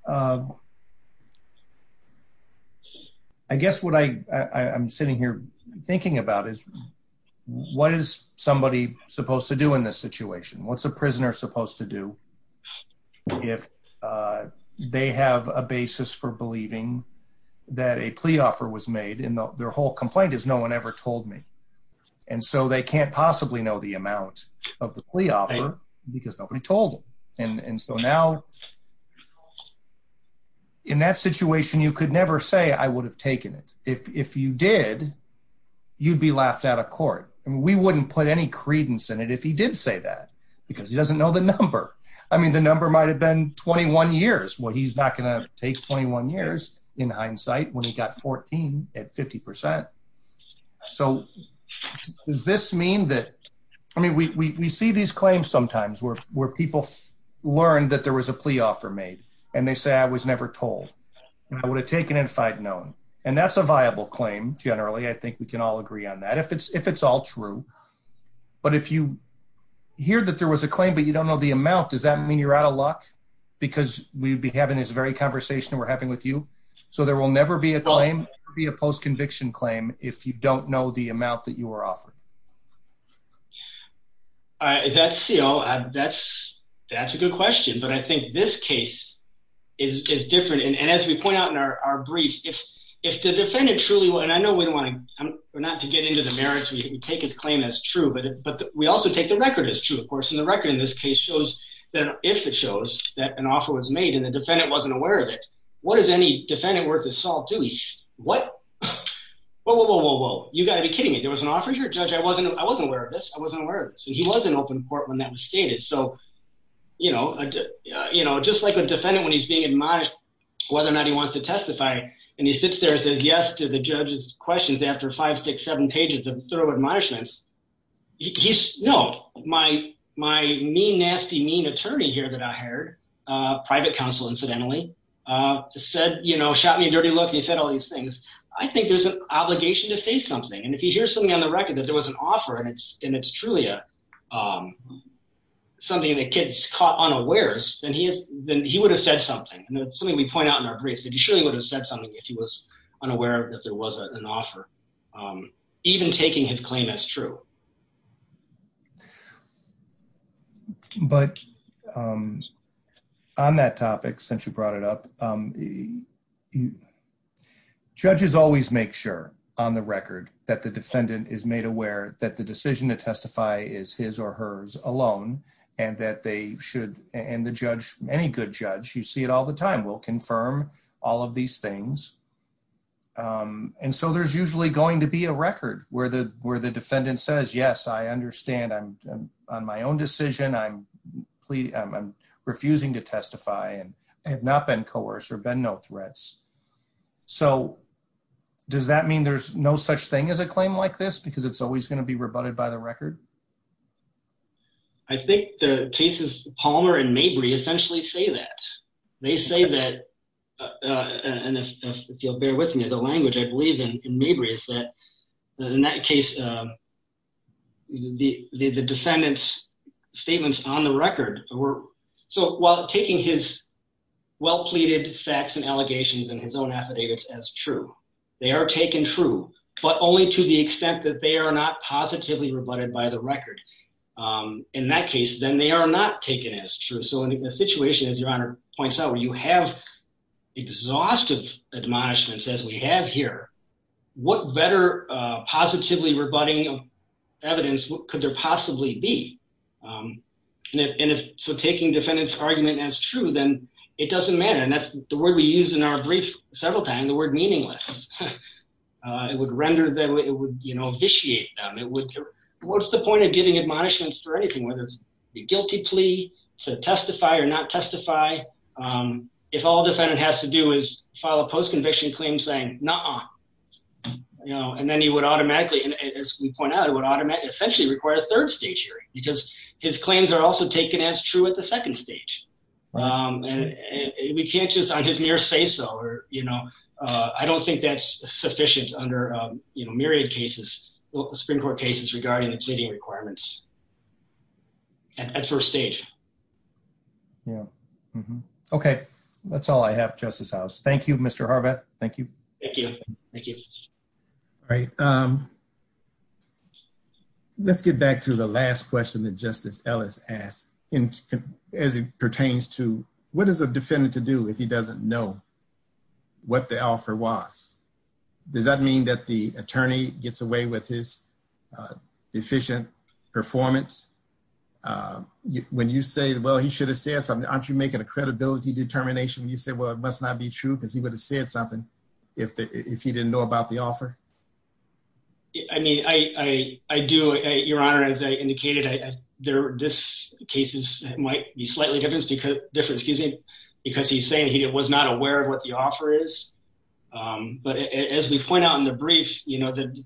I guess what I'm sitting here thinking about is what is somebody supposed to do in this situation? What's a prisoner supposed to do if they have a basis for believing that a plea offer was made and their whole complaint is no one ever told me and so they can't possibly know the amount of the plea offer because nobody told him and so now in that situation you could never say I would have taken it. If you did, you'd be laughed out of court and we wouldn't put any credence in it if he did say that because he doesn't know the number. I mean the number might have been 21 years. Well, he's not gonna take 21 years in hindsight when he got 14 at 50 percent so does this mean that I mean we see these claims sometimes where people learn that there was a plea offer made and they say I was never told and I would have taken it if I'd known and that's a viable claim generally I think we can all agree on that if it's all true but if you hear that there was a claim but you don't know the amount does that mean you're out of luck because we'd be having this very conversation we're having with you so there will never be a claim be a post-conviction claim if you don't know the amount that you were offered. All right that's CEO that's that's a good question but I think this case is is different and as we point out in our our brief if if the defendant truly well and I know we don't want to not to get into the merits we take his claim as true but but we also take the record as true of course and the record in this case shows that if it shows that an offer was made and the defendant wasn't aware of it what does any defendant worth of salt do he's what whoa whoa whoa whoa whoa you got to be kidding me there was an offer here judge I wasn't I wasn't aware of this I wasn't aware of this and he wasn't open court when that was stated so you know I did you know just like a defendant when he's being admonished whether or not he wants to testify and he sits there and says yes to the judge's questions after five six seven pages of thorough admonishments he's no my my mean nasty mean attorney here that I heard uh private counsel incidentally uh said you know shot me a dirty look he said all these things I think there's an obligation to say something and if you hear something on the record that there was an offer and it's and it's truly a um something that kids caught unawares then he has then he would have said something and that's something we point out in our brief that he surely would have said something if he was unaware that there was an offer um even taking his claim as true but um on that topic since you brought it up um judges always make sure on the record that the defendant is made aware that the decision to testify is his or hers alone and that they should and the judge any good judge you see it all the things um and so there's usually going to be a record where the where the defendant says yes I understand I'm on my own decision I'm pleading I'm refusing to testify and I have not been coerced or been no threats so does that mean there's no such thing as a claim like this because it's always going to be rebutted by the record I think the cases Palmer and Mabry essentially say that they say that uh and if you'll bear with me the language I believe in Mabry is that in that case um the the defendant's statements on the record were so while taking his well pleaded facts and allegations and his own affidavits as true they are taken true but only to the extent that they are not positively rebutted by the record um in that case then they are not taken as true so in a situation as your honor points out where you have exhaustive admonishments as we have here what better uh positively rebutting evidence what could there possibly be um and if so taking defendant's argument as true then it doesn't matter and that's the word we use in our brief several times the word meaningless uh it would render them it would you know vitiate them it would what's the point of giving admonishments for anything whether the guilty plea to testify or not testify um if all defendant has to do is file a post-conviction claim saying nah you know and then he would automatically and as we point out it would automatically essentially require a third stage hearing because his claims are also taken as true at the second stage um and we can't just on his mere say so or you know uh I don't think that's sufficient under um you know myriad cases well Supreme Court cases regarding the pleading requirements and at first stage yeah okay that's all I have justice house thank you Mr. Harbeth thank you thank you thank you all right um let's get back to the last question that Justice Ellis asked in as it pertains to what is the defendant to do if he doesn't know what the offer was does that mean that the attorney gets away with his uh efficient performance uh when you say well he should have said something aren't you making a credibility determination you say well it must not be true because he would have said something if he didn't know about the offer I mean I do your honor as I indicated there this cases might be slightly different because different excuse me because he's saying he was not aware of what the offer is um but as we point out in the brief you know the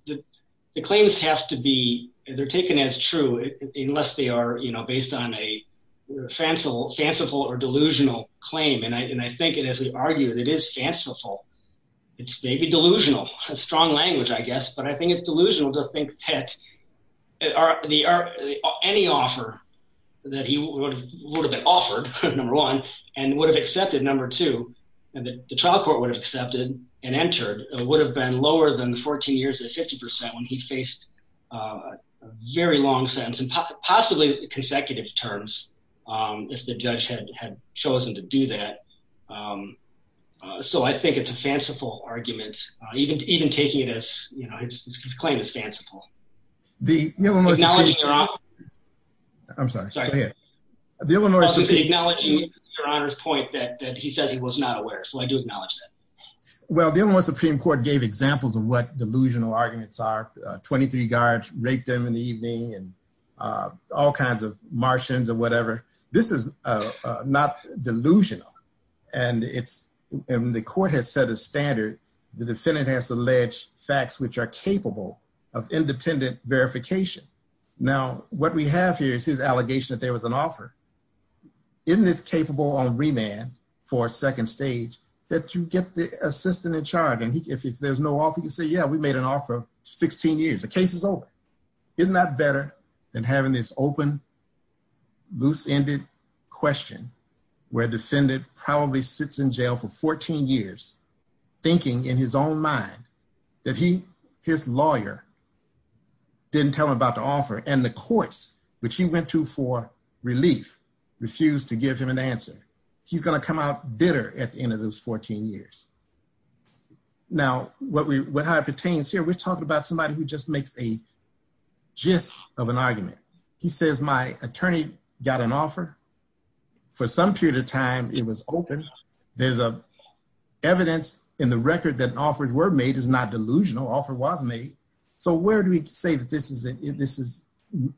the claims have to be they're taken as true unless they are you know based on a fanciful fanciful or delusional claim and I and I think it as we argue that it is fanciful it's maybe delusional a strong language I guess but I think it's delusional to think that any offer that he would have been offered number one and would have accepted number two and the trial court would have accepted and entered it would have been lower than 14 years at 50 percent when he faced a very long sentence and possibly consecutive terms um if the judge had had chosen to do that um so I think it's a fanciful argument even even taking it as you know his claim is fanciful the you know acknowledging your honor I'm sorry sorry the Illinois to acknowledge your honor's point that that he says he was not aware so I do acknowledge that well the Illinois Supreme Court gave examples of what delusional arguments are 23 guards raped them in the evening and uh all kinds of martians or whatever this is uh not delusional and it's and the court has set a standard the defendant has alleged facts which are capable of independent verification now what we have here is his allegation that there was an offer isn't it capable on remand for second stage that you get the assistant in charge and he if there's no offer you say yeah we made an offer 16 years the case is over isn't that better than having this open loose-ended question where defendant probably sits in jail for 14 years thinking in his own mind that he his lawyer didn't tell him about the offer and the courts which he went to for relief refused to give him an answer he's going to come out bitter at the end of those 14 years now what we what I pertains here we're talking about somebody who just makes a gist of an argument he says my attorney got an offer for some period of time it was open there's a evidence in the record that offers were made is not delusional offer was made so where do we say that this is it this is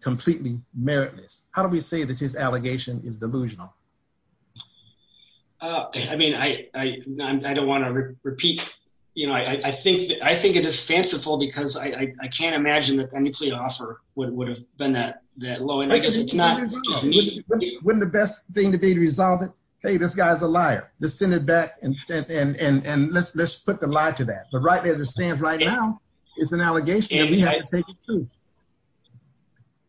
completely meritless how do we say that his allegation is delusional uh I mean I I I don't want to repeat you know I I think I think it is fanciful because I I can't imagine that a nuclear offer would would have been that that low and not wouldn't the best thing to be to resolve it hey this guy's a liar let's send it back and and and and let's let's put the lie to that but right as it stands right now it's an allegation and we have to take it too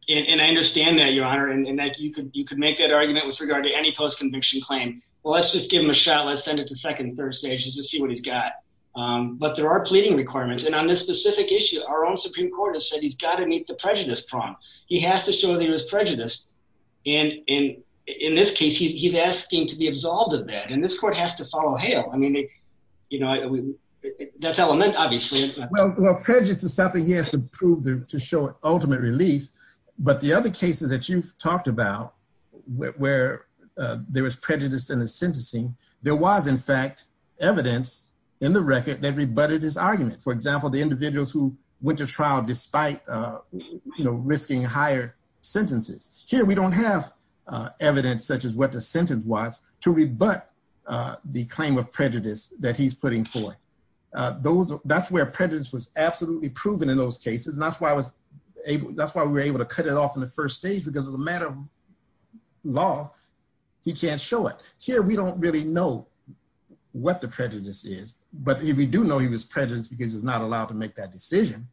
and I understand that your honor and that you could you could make that argument with regard to any post-conviction claim well let's just give him a shot let's send it to second and third stages to see what he's got um but there are pleading requirements and on this specific issue our own supreme court has said he's got to meet the prejudice and in in this case he's asking to be absolved of that and this court has to follow hail I mean you know that's element obviously well well prejudice is something he has to prove to show ultimate relief but the other cases that you've talked about where there was prejudice in the sentencing there was in fact evidence in the record that rebutted his argument for example the here we don't have uh evidence such as what the sentence was to rebut uh the claim of prejudice that he's putting for uh those that's where prejudice was absolutely proven in those cases and that's why I was able that's why we were able to cut it off in the first stage because as a matter of law he can't show it here we don't really know what the prejudice is but if we do know he was prejudiced because he's not allowed to make that decision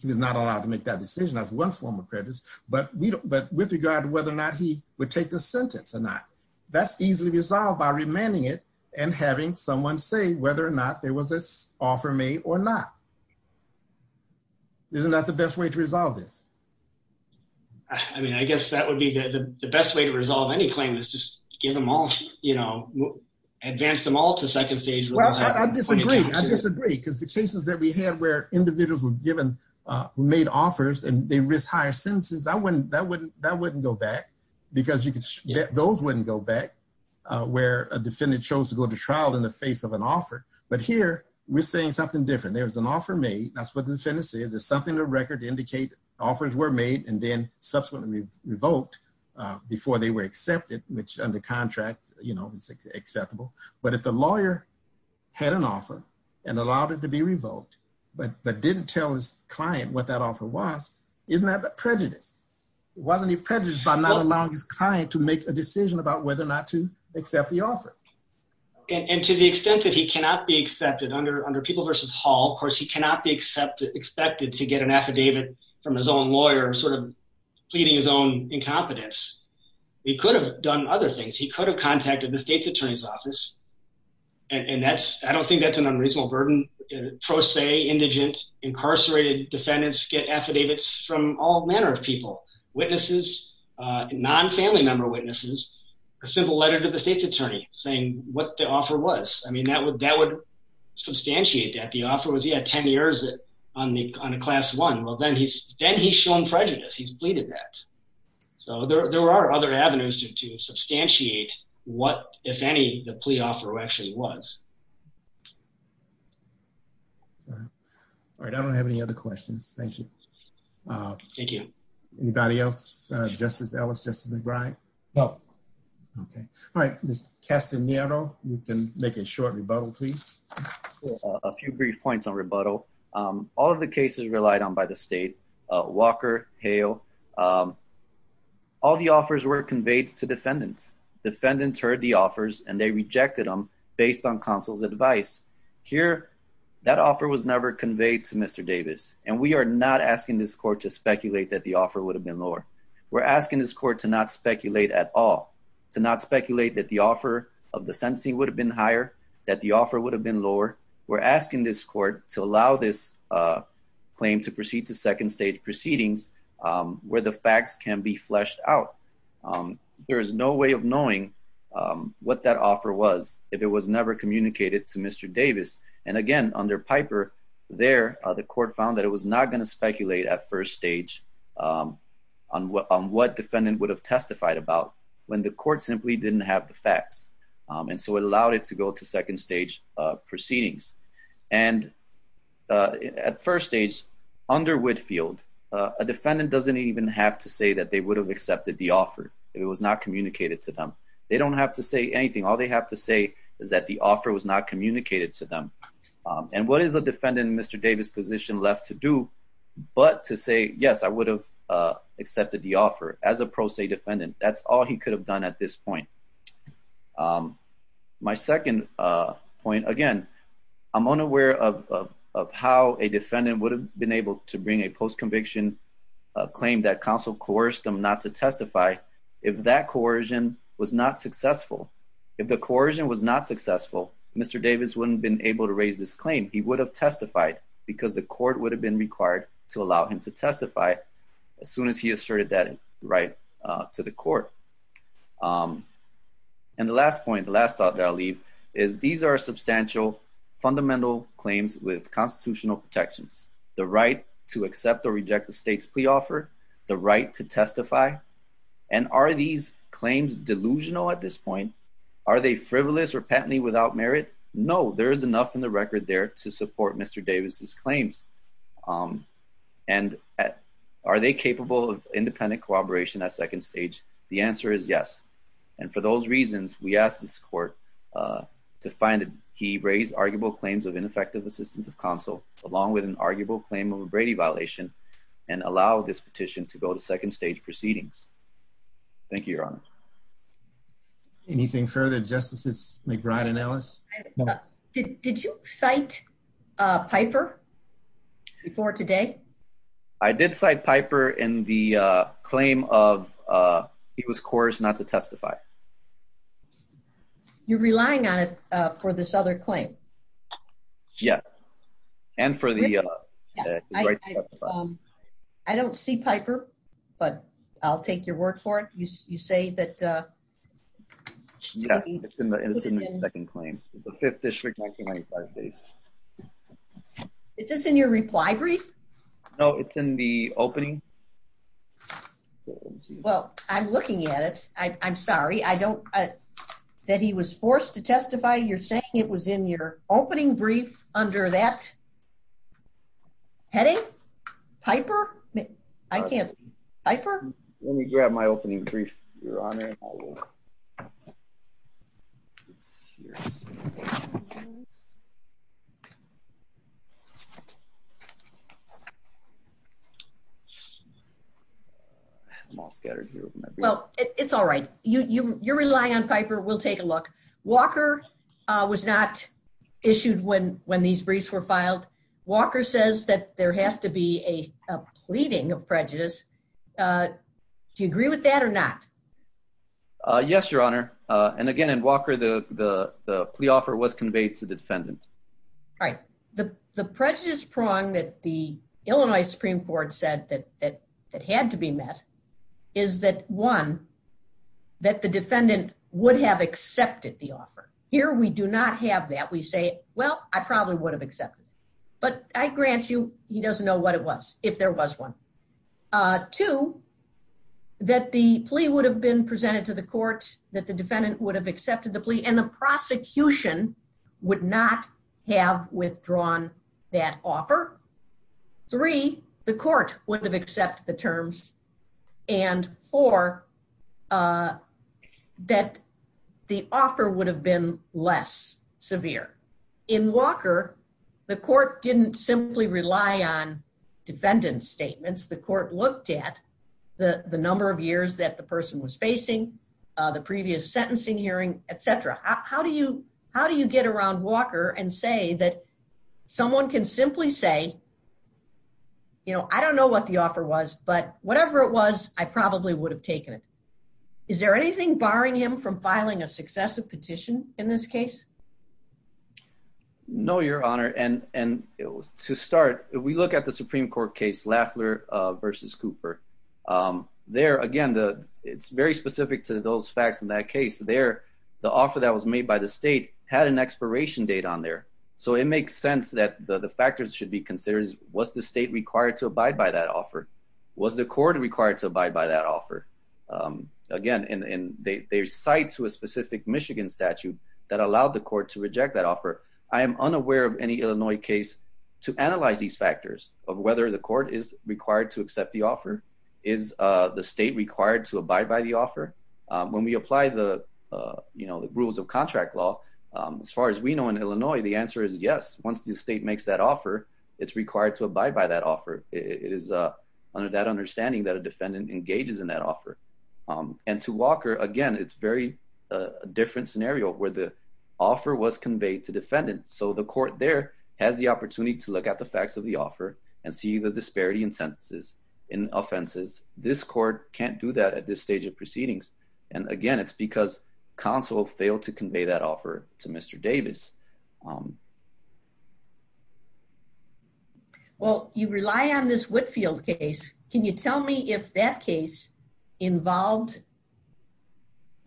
he was not allowed to make that decision as one form of prejudice but we don't but with regard to whether or not he would take the sentence or not that's easily resolved by remanding it and having someone say whether or not there was this offer made or not isn't that the best way to resolve this I mean I guess that would be the best way to resolve any claim is just give them all you know advance them all to second stage well I disagree I disagree because the cases that we had where individuals were given uh made offers and they risk higher sentences I wouldn't that wouldn't that wouldn't go back because you could those wouldn't go back uh where a defendant chose to go to trial in the face of an offer but here we're saying something different there was an offer made that's what the sentence is there's something to record to indicate offers were made and then subsequently revoked uh before they were accepted which under contract you know it's acceptable but if the lawyer had an offer and allowed it to be revoked but but didn't tell his client what that offer was isn't that the prejudice wasn't he prejudiced by not allowing his client to make a decision about whether or not to accept the offer and to the extent that he cannot be accepted under under people versus hall of course he cannot be accepted expected to get an affidavit from his own lawyer sort of pleading his own incompetence he could have done other things he could have contacted the state's office and that's I don't think that's an unreasonable burden pro se indigent incarcerated defendants get affidavits from all manner of people witnesses uh non-family member witnesses a simple letter to the state's attorney saying what the offer was I mean that would that would substantiate that the offer was he had 10 years on the on a class one well then he's then he's shown prejudice he's pleaded that so there there are other avenues to to substantiate what if any the plea offer actually was all right I don't have any other questions thank you uh thank you anybody else uh justice ellis justin mcbride no okay all right mr castanero you can make a short rebuttal please a few brief points on rebuttal um all of the cases relied on by the state uh walker hale um were conveyed to defendants defendants heard the offers and they rejected them based on counsel's advice here that offer was never conveyed to mr davis and we are not asking this court to speculate that the offer would have been lower we're asking this court to not speculate at all to not speculate that the offer of the sentencing would have been higher that the offer would have been lower we're asking this court to allow this uh claim to proceed to second stage proceedings um where the facts can be fleshed out um there is no way of knowing um what that offer was if it was never communicated to mr davis and again under piper there the court found that it was not going to speculate at first stage um on what on what defendant would have testified about when the court simply didn't have the facts um and so it allowed it to go to second stage uh uh at first stage under whitfield uh a defendant doesn't even have to say that they would have accepted the offer it was not communicated to them they don't have to say anything all they have to say is that the offer was not communicated to them um and what is the defendant mr davis position left to do but to say yes i would have uh accepted the offer as a pro se defendant that's done at this point um my second uh point again i'm unaware of of how a defendant would have been able to bring a post-conviction uh claim that counsel coerced them not to testify if that coercion was not successful if the coercion was not successful mr davis wouldn't been able to raise this claim he would have testified because the court would have been required to allow him to testify as soon as he asserted that right uh to the court um and the last point the last thought that i'll leave is these are substantial fundamental claims with constitutional protections the right to accept or reject the state's plea offer the right to testify and are these claims delusional at this point are they frivolous or patently without merit no there is enough in the record there to support mr davis's claims um and are they capable of independent cooperation at second stage the answer is yes and for those reasons we ask this court uh to find that he raised arguable claims of ineffective assistance of counsel along with an arguable claim of a brady violation and allow this petition to go to second stage proceedings thank you your honor anything further justices mcbride and ellis did did you cite uh piper before today i did cite piper in the uh claim of uh he was coerced not to testify you're relying on it uh for this other claim yes and for the uh um i don't see piper but i'll take your word for it you say that uh yes it's in the second claim it's a fifth district 1995 days is this in your reply brief no it's in the opening well i'm looking at it i'm sorry i don't uh that he was forced to testify you're saying it was in your opening brief under that heading piper i can't piper let me grab my opening brief your honor i'm all scattered here well it's all right you you you're relying on piper we'll take a look walker uh was not issued when when these briefs were filed walker says that there has to be a a pleading of prejudice uh do you agree with that or not uh yes your honor uh and again in walker the the the plea offer was conveyed to the defendant all right the the prejudice prong that the illinois supreme court said that that it had to be met is that one that the defendant would have accepted the offer here we do not have that we say well i probably would have accepted but i grant you he doesn't know what it was if there was one uh two that the plea would have been presented to the court that the defendant would have accepted the plea and the prosecution would not have withdrawn that offer three the court would have accepted the terms and four uh that the offer would have been less severe in walker the court didn't simply rely on defendant's statements the court looked at the the number of years that the person was facing the previous sentencing hearing etc how do you how do you get around walker and say that someone can simply say you know i don't know what the offer was but whatever it was i probably would have taken it is there anything barring him from filing a successive petition in this case no your honor and and it was to start if we look at the supreme court case laffler uh versus cooper um there again the it's very specific to those facts in that case there the offer that was made by the state had an expiration date on there so it makes sense that the the factors should be considered was the state required to abide by that offer was the court required to abide by that offer um again and and they cite to a specific michigan statute that allowed the court to reject that offer i am unaware of any illinois case to analyze these factors of whether the court is required to accept the offer is uh the state required to abide by the offer when we apply the you know the rules of contract law as far as we know in illinois the answer is yes once the state makes that offer it's required to abide by that offer it is uh under that understanding that a offer um and to walker again it's very a different scenario where the offer was conveyed to defendants so the court there has the opportunity to look at the facts of the offer and see the disparity in sentences in offenses this court can't do that at this stage of proceedings and again it's because counsel failed to convey that offer to mr davis um well you rely on this whitfield case can you tell me if that case involved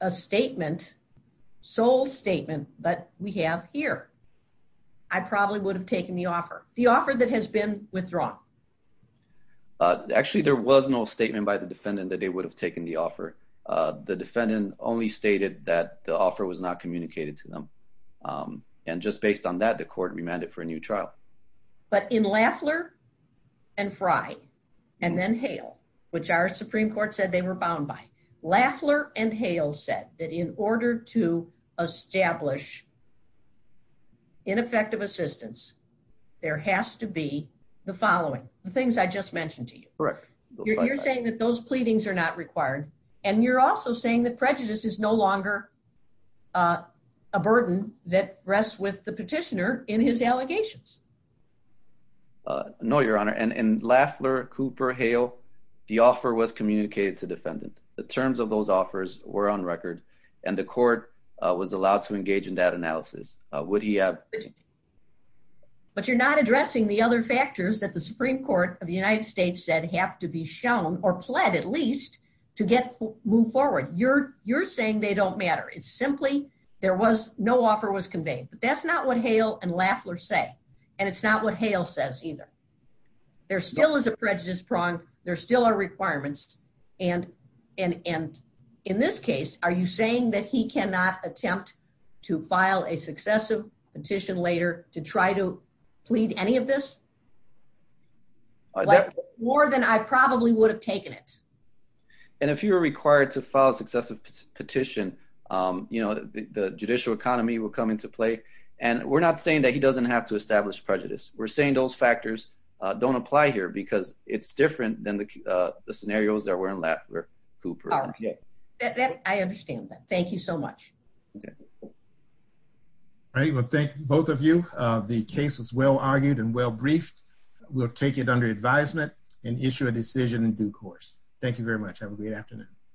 a statement sole statement but we have here i probably would have taken the offer the offer that has been withdrawn uh actually there was no statement by the defendant that they would have taken the offer uh the defendant only stated that the offer was not communicated to them um and just based on that the court remanded for a new trial but in laffler and fry and then hail which our supreme court said they were bound by laffler and hail said that in order to establish ineffective assistance there has to be the following the things i just mentioned to you correct you're saying that those pleadings are not required and you're also saying that rests with the petitioner in his allegations uh no your honor and and laffler cooper hail the offer was communicated to defendant the terms of those offers were on record and the court was allowed to engage in that analysis uh would he have but you're not addressing the other factors that the supreme court of the united states said have to be shown or pled at least to get move forward you're you're saying they don't matter it's simply there was no offer was conveyed but that's not what hail and laffler say and it's not what hail says either there still is a prejudice prong there still are requirements and and and in this case are you saying that he cannot attempt to file a successive petition later to try to plead any of this more than i probably would have taken it and if you were required to file a successive petition um you know the judicial economy will come into play and we're not saying that he doesn't have to establish prejudice we're saying those factors uh don't apply here because it's different than the uh the scenarios that were in laffler cooper yeah that i understand that thank you so much okay all right well thank both of you uh the case was well argued and well briefed we'll take it under advisement and issue a decision in due course thank you very much have a great afternoon